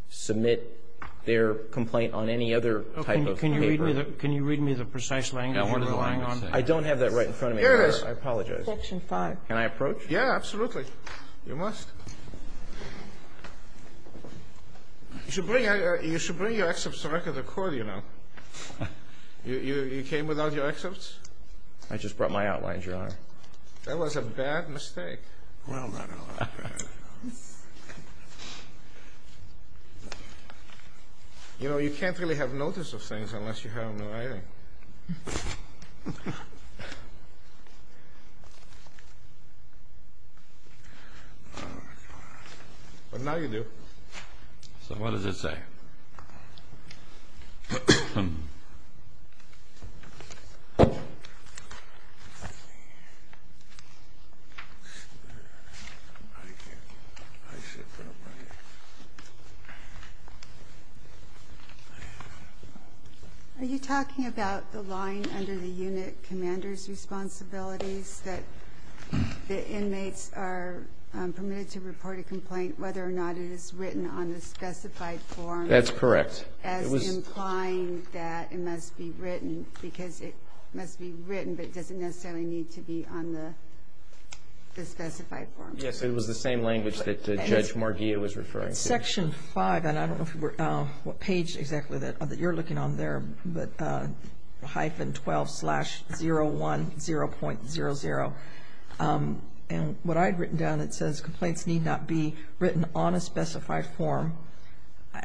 submit their complaint on any other type of paper. Can you read me the precise language? I don't have that right in front of me. I apologize. Section 5. Can I approach? Yeah, absolutely. You must. You should bring your excerpts directly to the court, Your Honor. You came without your excerpts? I just brought my outlines, Your Honor. That was a bad mistake. No, I'm not going to lie. You know, you can't really have notice of things unless you have them in writing. But now you do. So what does it say? Are you talking about the line under the unit commander's responsibilities that the inmates are permitted to report a complaint whether or not it is written on the specified form? That's correct. As implying that it must be written, because it must be written but doesn't necessarily need to be on the specified form. Yes, it was the same language that Judge Margia was referring to. Section 5, and I don't know what page exactly that you're looking on there, but hyphen 12 slash 010.00. And what I'd written down, it says, complaints need not be written on a specified form.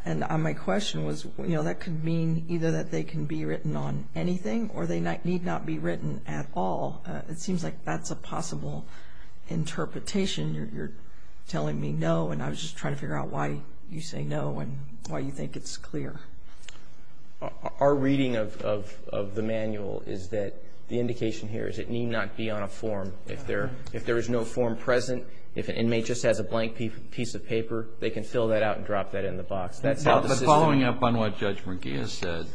And my question was, you know, that could mean either that they can be written on anything or they need not be written at all. It seems like that's a possible interpretation. You're telling me no, and I was just trying to figure out why you say no and why you think it's clear. Our reading of the manual is that the indication here is it need not be on a form. If there is no form present, if an inmate just has a blank piece of paper, they can fill that out and drop that in the box. But following up on what Judge Margia said,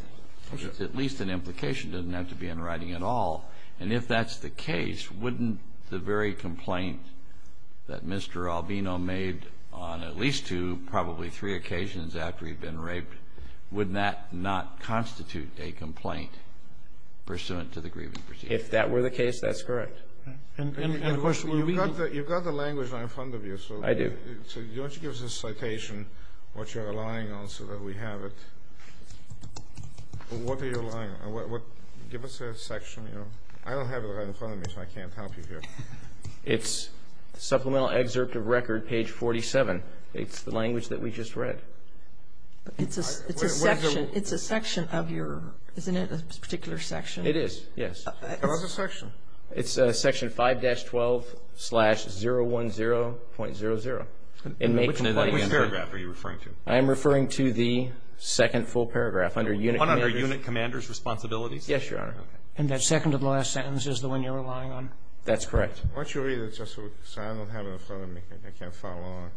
at least an implication doesn't have to be in writing at all. And if that's the case, wouldn't the very complaint that Mr. Albino made on at least two, probably three occasions after he'd been raped, wouldn't that not constitute a complaint pursuant to the grieving procedure? If that were the case, that's correct. You've got the language right in front of you. I do. So why don't you give us a citation, what you're relying on so that we have it. What are you relying on? Give us a section. I don't have it right in front of me, so I can't help you here. It's Supplemental Excerpt of Record, page 47. It's the language that we just read. It's a section of your, isn't it a particular section? It is, yes. What's the section? It's section 5-12 slash 010.00. Which paragraph are you referring to? I am referring to the second full paragraph. Under Unit Commander's Responsibility? Yes, Your Honor. And that second to the last sentence is the one you're relying on? That's correct. Once you read it, it's just silent, I don't have it in front of me. I can't follow along.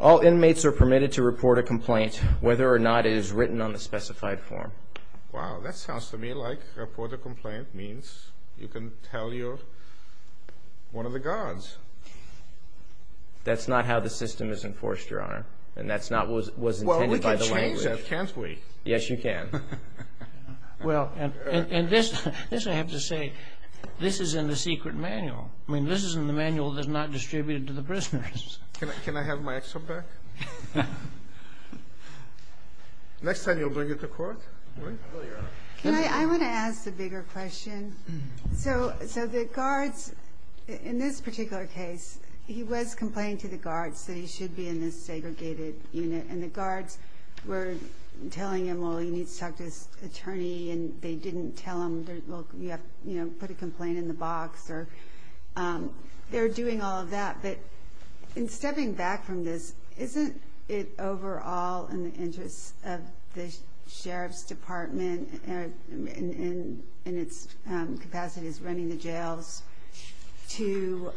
All inmates are permitted to report a complaint, whether or not it is written on the specified form. Wow, that sounds to me like report a complaint means you can tell one of the guards. That's not how the system is enforced, Your Honor. And that's not what was intended by the language. Well, we can change that, can't we? Yes, you can. Well, and this I have to say, this is in the secret manual. I mean, this is in the manual that is not distributed to the prisoners. Can I have my excerpt back? Next time you'll bring it to court? I want to ask a bigger question. So the guards, in this particular case, he was complaining to the guards that he should be in this segregated unit. And the guards were telling him, well, you need to talk to this attorney, and they didn't tell him, well, you have to put a complaint in the box. They were doing all of that. But in stepping back from this, isn't it overall in the interest of the Sheriff's Department, in its capacity as running the jails, to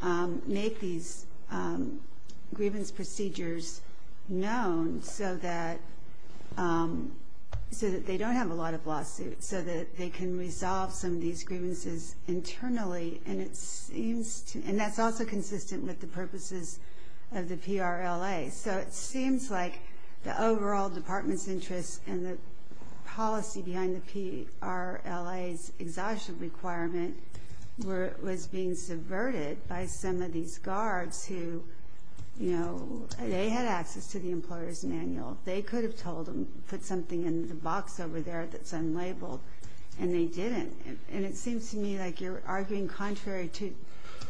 make these grievance procedures known so that they don't have a lot of lawsuits, so that they can resolve some of these grievances internally? And that's also consistent with the purposes of the PRLA. So it seems like the overall Department's interest and the policy behind the PRLA's exhaustion requirement was being subverted by some of these guards who, you know, they had access to the employer's manual. They could have told them to put something in the box over there that's unlabeled, and they didn't. And it seems to me like you're arguing contrary to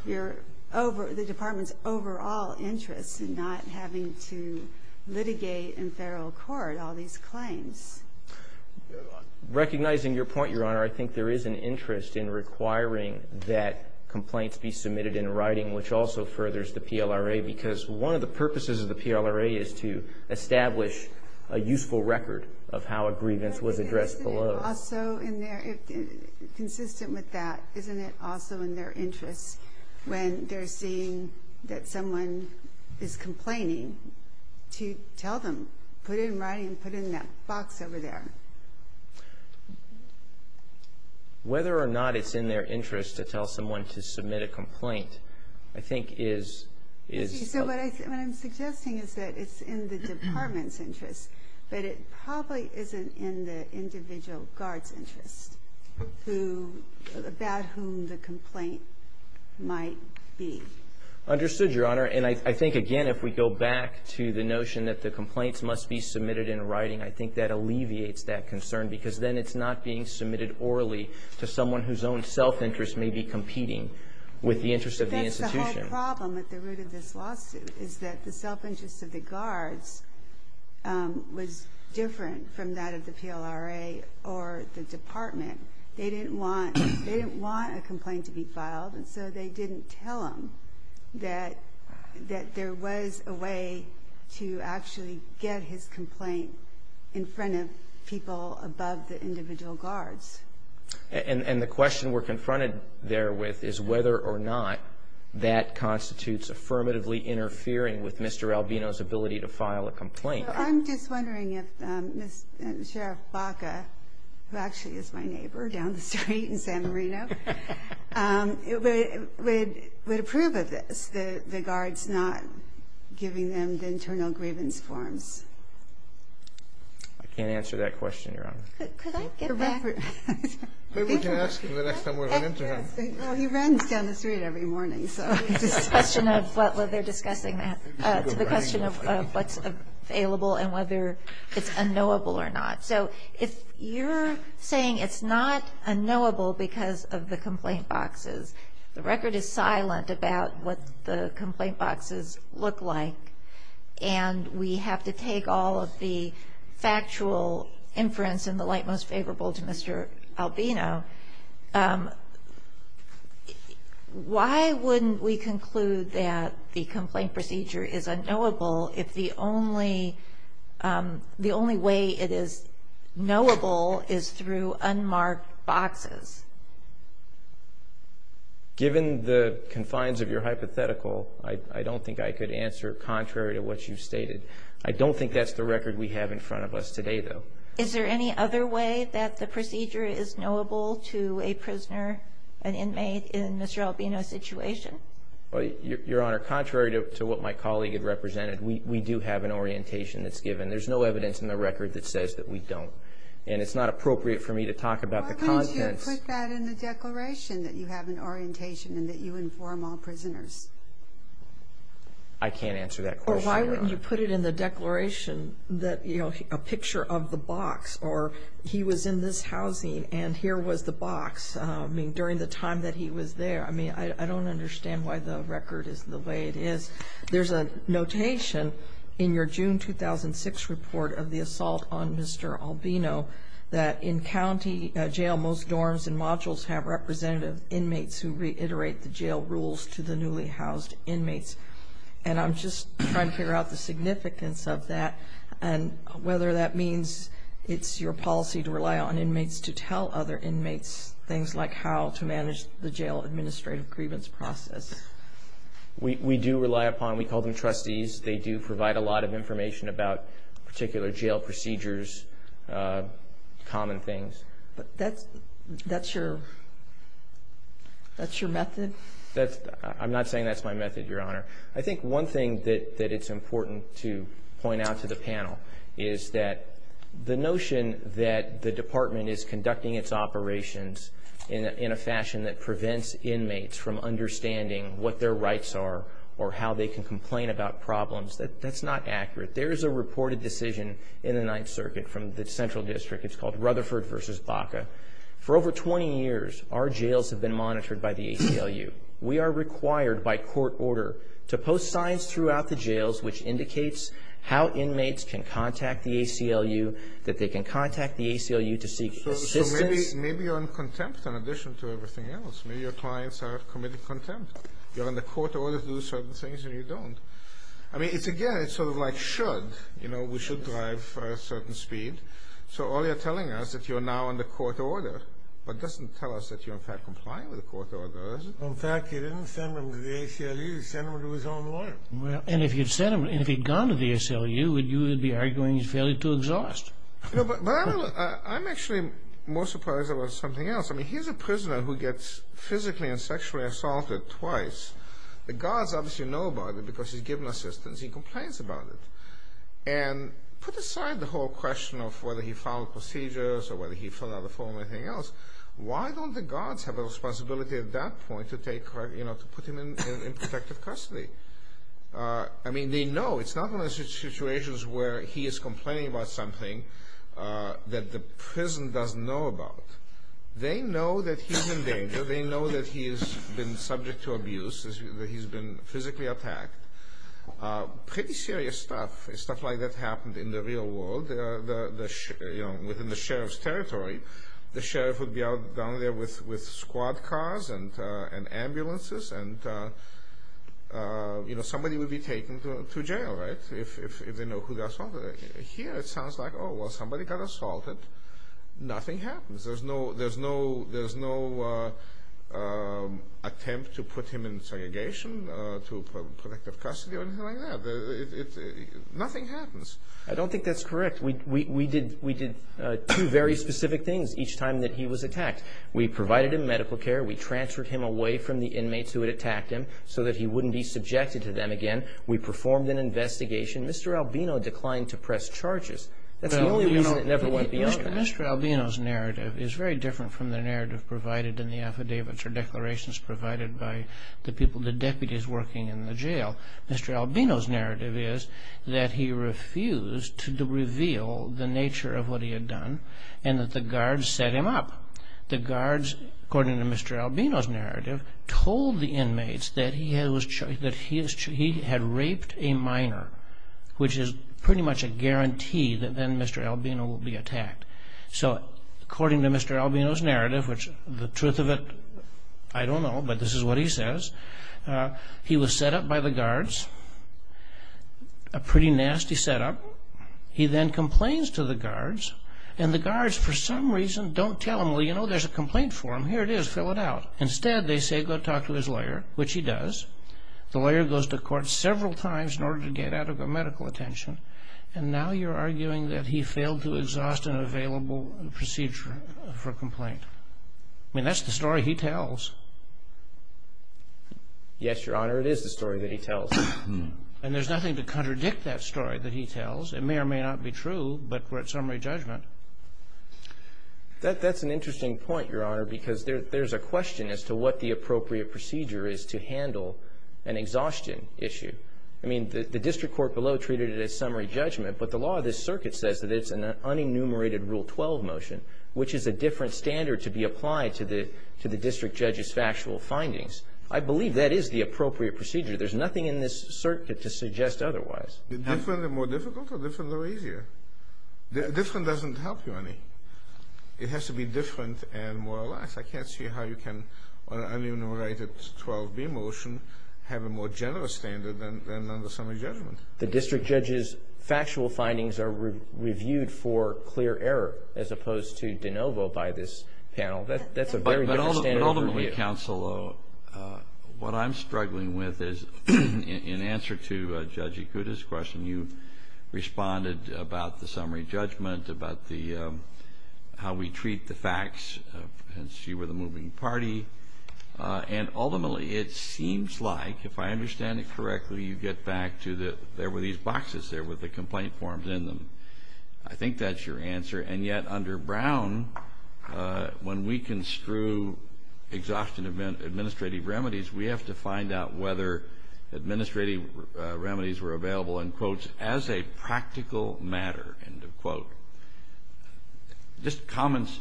the Department's overall interest in not having to litigate in federal court all these claims. Recognizing your point, Your Honor, I think there is an interest in requiring that complaints be submitted in writing, which also furthers the PLRA, because one of the purposes of the PLRA is to establish a useful record of how a grievance was addressed below. But isn't it also in their interest, consistent with that, isn't it also in their interest when they're seeing that someone is complaining to tell them, put it in writing, put it in that box over there? Whether or not it's in their interest to tell someone to submit a complaint, I think, is... You see, what I'm suggesting is that it's in the Department's interest, but it probably isn't in the individual guard's interest, about whom the complaint might be. Understood, Your Honor. And I think, again, if we go back to the notion that the complaints must be submitted in writing, I think that alleviates that concern, because then it's not being submitted orally to someone whose own self-interest may be competing with the interest of the institution. That's the whole problem at the root of this lawsuit, is that the self-interest of the guards was different from that of the PLRA or the Department. They didn't want a complaint to be filed, and so they didn't tell him that there was a way to actually get his complaint in front of people above the individual guards. And the question we're confronted there with is whether or not that constitutes affirmatively interfering with Mr. Alvino's ability to file a complaint. I'm just wondering if Sheriff Baca, who actually is my neighbor down the street in San Marino, would approve of this, the guards not giving them the internal grievance forms. I can't answer that question, Your Honor. Could I get that? Well, he runs down the street every morning, so. The question of what's available and whether it's unknowable or not. So if you're saying it's not unknowable because of the complaint boxes, the record is silent about what the complaint boxes look like, and we have to take all of the factual inference in the light most favorable to Mr. Alvino, why wouldn't we conclude that the complaint procedure is unknowable if the only way it is knowable is through unmarked boxes? Given the confines of your hypothetical, I don't think I could answer contrary to what you stated. I don't think that's the record we have in front of us today, though. Is there any other way that the procedure is knowable to a prisoner, an inmate, in the Sheriff Alvino situation? Your Honor, contrary to what my colleague had represented, we do have an orientation that's given. There's no evidence in the record that says that we don't, and it's not appropriate for me to talk about the content. Why don't you put that in the declaration, that you have an orientation and that you inform all prisoners? Why wouldn't you put it in the declaration that, you know, a picture of the box, or he was in this housing and here was the box during the time that he was there? I mean, I don't understand why the record is the way it is. There's a notation in your June 2006 report of the assault on Mr. Alvino that in county jail, most dorms and modules have representative inmates who reiterate the jail rules to the newly housed inmates. And I'm just trying to figure out the significance of that and whether that means it's your policy to rely on inmates to tell other inmates things like how to manage the jail administrative grievance process. We do rely upon, we call them trustees. They do provide a lot of information about particular jail procedures, common things. That's your method? I'm not saying that's my method, Your Honor. I think one thing that it's important to point out to the panel is that the notion that the department is conducting its operations in a fashion that prevents inmates from understanding what their rights are or how they can complain about problems, that's not accurate. There's a reported decision in the Ninth Circuit from the Central District. It's called Rutherford v. Baca. For over 20 years, our jails have been monitored by the ACLU. We are required by court order to post signs throughout the jails which indicates how inmates can contact the ACLU, that they can contact the ACLU to seek assistance. So maybe you're on contempt in addition to everything else. Maybe your clients have committed contempt. You're on the court order to do certain things and you don't. I mean, again, it's sort of like should. You know, we should drive a certain speed. So all you're telling us, if you're now on the court order, that doesn't tell us that you're in fact complying with the court order, does it? In fact, he didn't send them to the ACLU. He sent them to his own lawyer. And if he'd gone to the ACLU, would you be arguing he's failing to exhaust? I'm actually more surprised about something else. I mean, here's a prisoner who gets physically and sexually assaulted twice. The guards obviously know about it because he's given assistance. He complains about it. And put aside the whole question of whether he followed procedures or whether he followed everything else. Why don't the guards have a responsibility at that point to put him in protective custody? I mean, they know. It's not one of those situations where he is complaining about something that the prison doesn't know about. They know that he's in danger. They know that he's been subject to abuse, that he's been physically attacked. Pretty serious stuff. It's not like that happened in the real world. Within the sheriff's territory, the sheriff would be down there with squad cars and ambulances, and somebody would be taken to jail, right, if they know who they assaulted. Here it sounds like, oh, well, somebody got assaulted. Nothing happens. There's no attempt to put him in segregation, to protect the custody or anything like that. Nothing happens. I don't think that's correct. We did two very specific things each time that he was attacked. We provided him medical care. We transferred him away from the inmates who had attacked him so that he wouldn't be subjected to them again. We performed an investigation. Mr. Albino declined to press charges. Mr. Albino's narrative is very different from the narrative provided in the affidavits or declarations provided by the deputies working in the jail. Mr. Albino's narrative is that he refused to reveal the nature of what he had done and that the guards set him up. The guards, according to Mr. Albino's narrative, told the inmates that he had raped a minor, which is pretty much a guarantee that then Mr. Albino will be attacked. So according to Mr. Albino's narrative, which the truth of it, I don't know, but this is what he says, he was set up by the guards, a pretty nasty setup. He then complains to the guards, and the guards, for some reason, don't tell him, well, you know, there's a complaint for him. Here it is. Fill it out. Instead, they say go talk to his lawyer, which he does. The lawyer goes to court several times in order to get out of a medical attention, and now you're arguing that he failed to exhaust an available procedure for a complaint. I mean, that's the story he tells. Yes, Your Honor, it is the story that he tells. And there's nothing to contradict that story that he tells. It may or may not be true, but we're at summary judgment. That's an interesting point, Your Honor, because there's a question as to what the appropriate procedure is to handle an exhaustion issue. I mean, the district court below treated it as summary judgment, but the law of this circuit says that it's an unenumerated Rule 12 motion, which is a different standard to be applied to the district judge's factual findings. I believe that is the appropriate procedure. There's nothing in this circuit to suggest otherwise. Different and more difficult, or different and easier? Different doesn't help, Your Honor. It has to be different and more or less. I can't see how you can, on an unenumerated Rule 12 motion, have a more general standard than on the summary judgment. The district judge's factual findings are reviewed for clear error, as opposed to de novo by this panel. But ultimately, counsel, what I'm struggling with is, in answer to Judge Ikuda's question, you responded about the summary judgment, about how we treat the facts, as you were the moving party. And ultimately, it seems like, if I understand it correctly, you get back to that there were these boxes there with the complaint forms in them. I think that's your answer. And yet, under Brown, when we construe exhaustion administrative remedies, we have to find out whether administrative remedies were available, in quotes, as a practical matter, end of quote. Just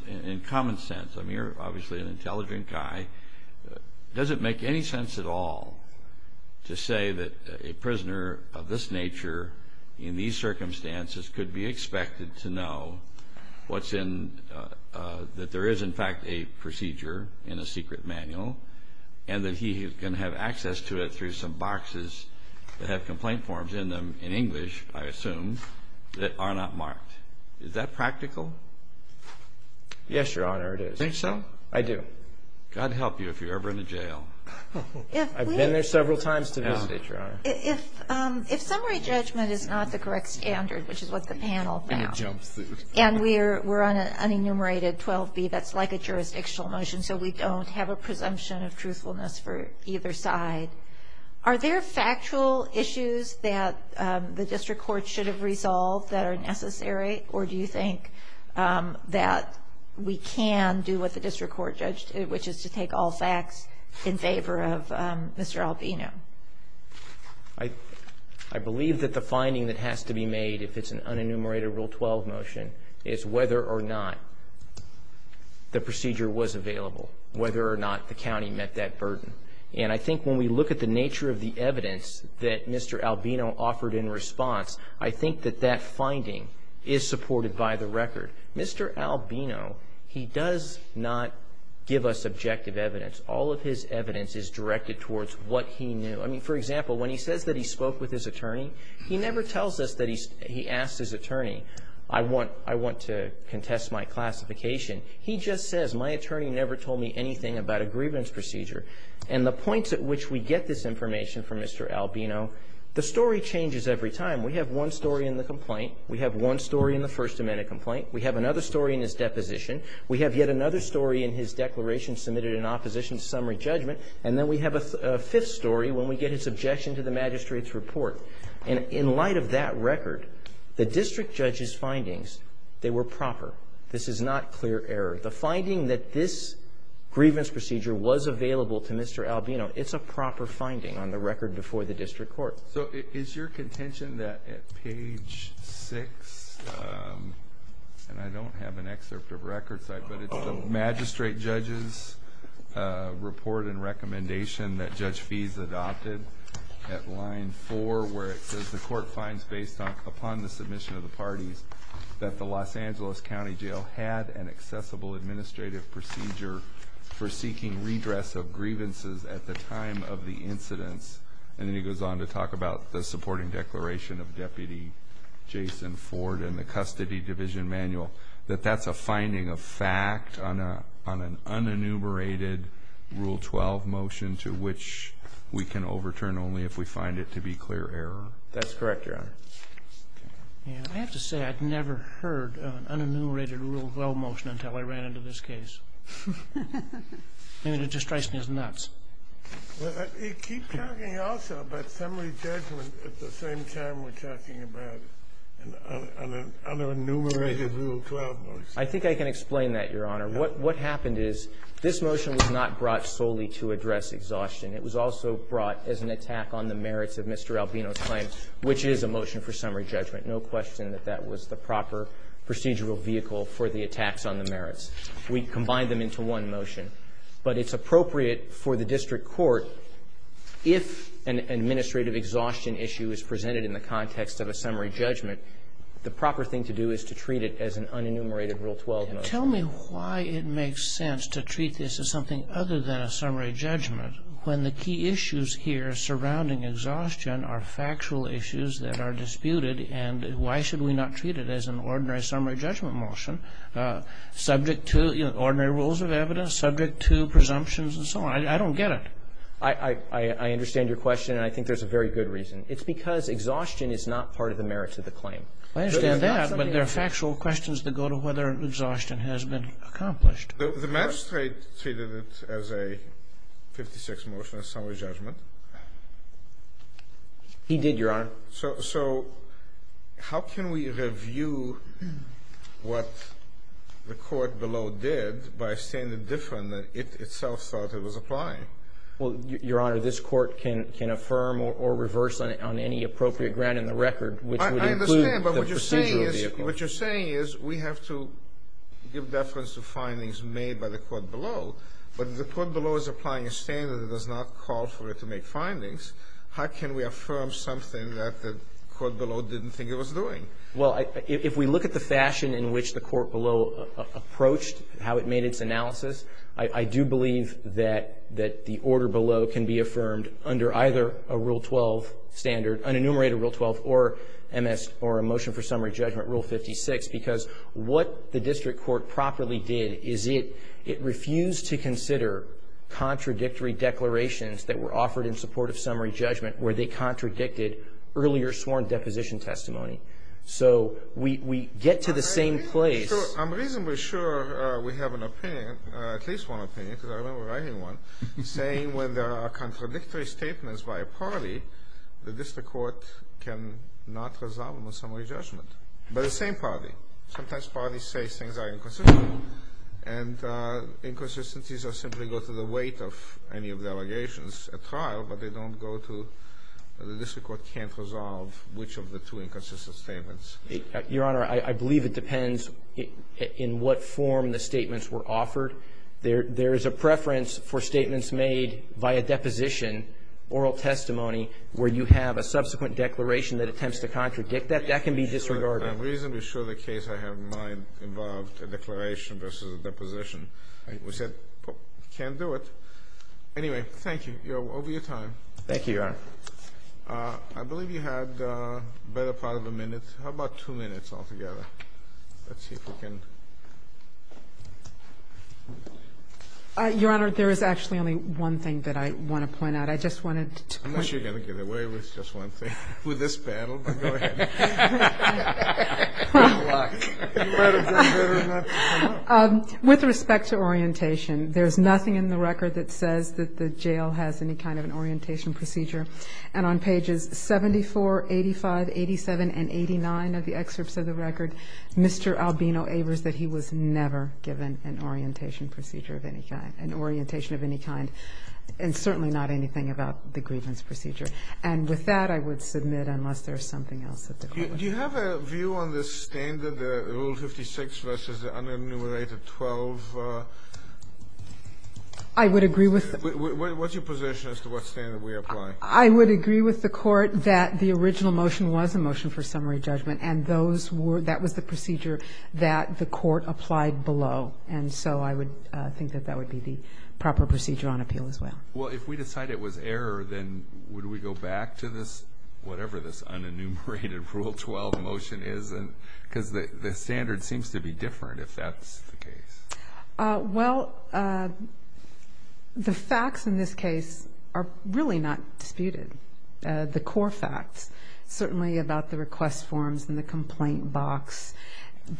in common sense. I mean, you're obviously an intelligent guy. Does it make any sense at all to say that a prisoner of this nature, in these circumstances, could be expected to know that there is, in fact, a procedure in a secret manual, and that he can have access to it through some boxes that have complaint forms in them, in English, I assume, that are not marked? Is that practical? Yes, Your Honor, it is. You think so? I do. God help you if you're ever in the jail. I've been there several times to visit it, Your Honor. If summary judgment is not the correct standard, which is what the panel found, and we're on an unenumerated 12B, that's like a jurisdictional motion, so we don't have a presumption of truthfulness for either side, are there factual issues that the district court should have resolved that are necessary, or do you think that we can do what the district court judged to do, which is to take all facts in favor of Mr. Albino? I believe that the finding that has to be made, if it's an unenumerated Rule 12 motion, is whether or not the procedure was available, whether or not the county met that burden. And I think when we look at the nature of the evidence that Mr. Albino offered in response, I think that that finding is supported by the record. Mr. Albino, he does not give us objective evidence. All of his evidence is directed towards what he knew. I mean, for example, when he says that he spoke with his attorney, he never tells us that he asked his attorney, I want to contest my classification. He just says, my attorney never told me anything about a grievance procedure. And the point at which we get this information from Mr. Albino, the story changes every time. We have one story in the complaint. We have one story in the First Amendment complaint. We have another story in his deposition. We have yet another story in his declaration submitted in opposition to summary judgment. And then we have a fifth story when we get his objection to the magistrate's report. And in light of that record, the district judge's findings, they were proper. This is not clear error. The finding that this grievance procedure was available to Mr. Albino, it's a proper finding on the record before the district court. So is your contention that at page 6, and I don't have an excerpt of record, but it's the magistrate judge's report and recommendation that Judge Fees adopted at line 4 where it says the court finds based upon the submission of the parties that the Los Angeles County Jail had an accessible administrative procedure for seeking redress of grievances at the time of the incident. And then he goes on to talk about the supporting declaration of Deputy Jason Ford in the custody division manual that that's a finding of fact on an unenumerated Rule 12 motion to which we can overturn only if we find it to be clear error. That's correct, Your Honor. I have to say I've never heard of an unenumerated Rule 12 motion until I ran into this case. And it just strikes me as nuts. You keep talking also about summary judgment at the same time we're talking about an unenumerated Rule 12 motion. I think I can explain that, Your Honor. What happened is this motion was not brought solely to address exhaustion. It was also brought as an attack on the merits of Mr. Albino's claim, which is a motion for summary judgment. No question that that was the proper procedural vehicle for the attacks on the merits. We've combined them into one motion. But it's appropriate for the district court, if an administrative exhaustion issue is presented in the context of a summary judgment, the proper thing to do is to treat it as an unenumerated Rule 12 motion. Tell me why it makes sense to treat this as something other than a summary judgment when the key issues here surrounding exhaustion are factual issues that are disputed and why should we not treat it as an ordinary summary judgment motion subject to ordinary rules of evidence, subject to presumptions and so on? I don't get it. I understand your question, and I think there's a very good reason. It's because exhaustion is not part of the merits of the claim. I understand that, but there are factual questions that go to whether exhaustion has been accomplished. The magistrate treated it as a 56 motion, a summary judgment. He did, Your Honor. So how can we review what the court below did by a standard different that it itself thought it was applying? Well, Your Honor, this court can affirm or reverse on any appropriate ground in the record. I understand, but what you're saying is we have to give reference to findings made by the court below. But if the court below is applying a standard that does not call for it to make findings, how can we affirm something that the court below didn't think it was doing? Well, if we look at the fashion in which the court below approached how it made its analysis, I do believe that the order below can be affirmed under either a Rule 12 standard, an enumerated Rule 12 or a motion for summary judgment, Rule 56, because what the district court properly did is it refused to consider contradictory declarations that were offered in support of summary judgment where they contradicted earlier sworn deposition testimony. So we get to the same place. I'm reasonably sure we have an opinion, at least one opinion, because I don't know where I even went, saying when there are contradictory statements by a party, the district court can not resolve a summary judgment by the same party. Sometimes parties say things are inconsistent, and inconsistencies simply go to the weight of any of the allegations at trial, but they don't go to the district court can't resolve which of the two inconsistent statements. Your Honor, I believe it depends in what form the statements were offered. There is a preference for statements made by a deposition, oral testimony, where you have a subsequent declaration that attempts to contradict that. That can be disregarded. I'm reasonably sure the case I have in mind involved a declaration versus a deposition. We said, can't do it. Anyway, thank you. You're over your time. Thank you, Your Honor. I believe you had a better part of a minute. How about two minutes altogether? Let's see if we can. Your Honor, there is actually only one thing that I want to point out. I just wanted to— Unless you're going to get away with just one thing. With this battle. Go ahead. With respect to orientation, there's nothing in the record that says that the jail has any kind of an orientation procedure. And on pages 74, 85, 87, and 89 of the excerpts of the record, Mr. Albino Avers said he was never given an orientation procedure of any kind, an orientation of any kind, and certainly not anything about the grievance procedure. And with that, I would submit, unless there's something else at the question. Do you have a view on the standard, the Rule 56 versus the unenumerated 12? I would agree with— What's your position as to what standard we apply? I would agree with the court that the original motion was a motion for summary judgment, and that was the procedure that the court applied below. And so I would think that that would be the proper procedure on appeal as well. Well, if we decide it was error, then would we go back to this, whatever this unenumerated Rule 12 motion is? Because the standard seems to be different if that's the case. Well, the facts in this case are really not disputed. The core facts, certainly about the request forms and the complaint box,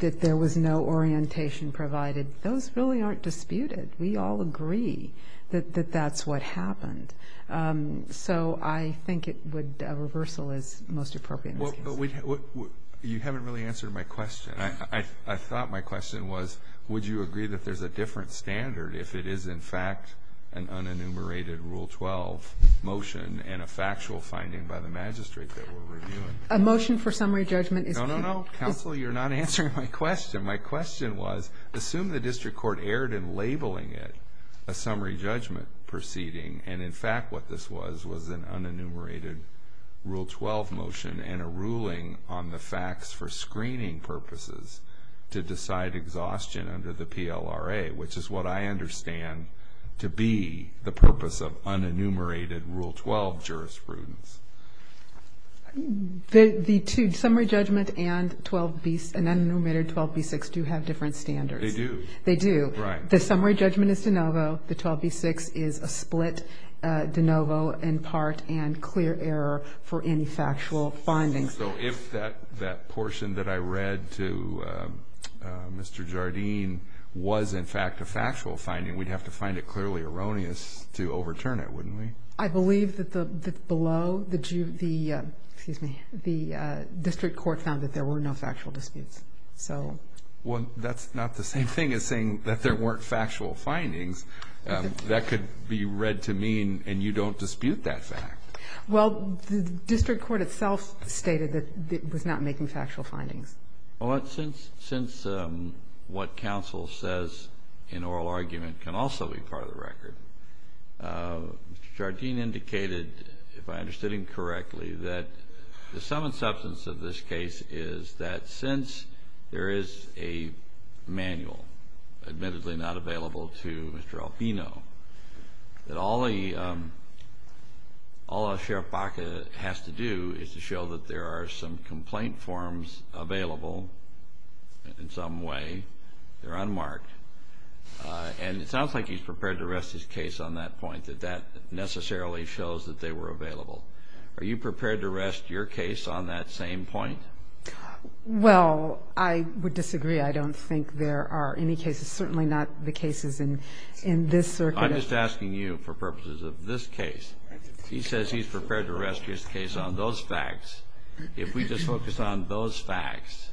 that there was no orientation provided, those really aren't disputed. We all agree that that's what happened. So I think a reversal is most appropriate. You haven't really answered my question. I thought my question was, would you agree that there's a different standard if it is, in fact, an unenumerated Rule 12 motion and a factual finding by the magistrate that we're reviewing? A motion for summary judgment is— No, no, no, counsel, you're not answering my question. My question was, assume the district court erred in labeling it a summary judgment proceeding, and in fact what this was was an unenumerated Rule 12 motion and a ruling on the facts for screening purposes to decide exhaustion under the PLRA, which is what I understand to be the purpose of unenumerated Rule 12 jurisprudence. The summary judgment and unenumerated 12b6 do have different standards. They do. They do. The summary judgment is de novo. The 12b6 is a split de novo in part and clear error for any factual finding. So if that portion that I read to Mr. Jardine was, in fact, a factual finding, we'd have to find it clearly erroneous to overturn it, wouldn't we? I believe that below the district court found that there were no factual disputes. Well, that's not the same thing as saying that there weren't factual findings. That could be read to mean, and you don't dispute that fact. Well, the district court itself stated that it was not making factual findings. Well, since what counsel says in oral argument can also be part of the record, Mr. Jardine indicated, if I understood him correctly, that the sum and substance of this case is that since there is a manual, admittedly not available to Mr. Alpino, that all Sheriff Baca has to do is to show that there are some complaint forms available in some way. They're unmarked. And it sounds like he's prepared to rest his case on that point, that that necessarily shows that they were available. Are you prepared to rest your case on that same point? Well, I would disagree. I don't think there are any cases, certainly not the cases in this circuit. I'm just asking you for purposes of this case. He says he's prepared to rest his case on those facts. If we just focus on those facts,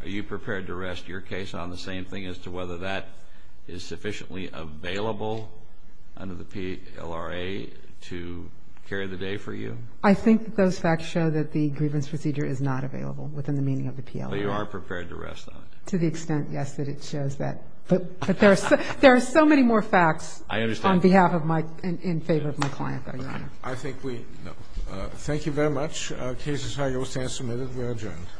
are you prepared to rest your case on the same thing as to whether that is sufficiently available under the PLRA to carry the day for you? I think that those facts show that the grievance procedure is not available within the meaning of the PLRA. But you are prepared to rest on it? To the extent, yes, that it shows that. But there are so many more facts in favor of my client that I don't know. I think we know. Thank you very much. Case is now go stand submitted. We are adjourned.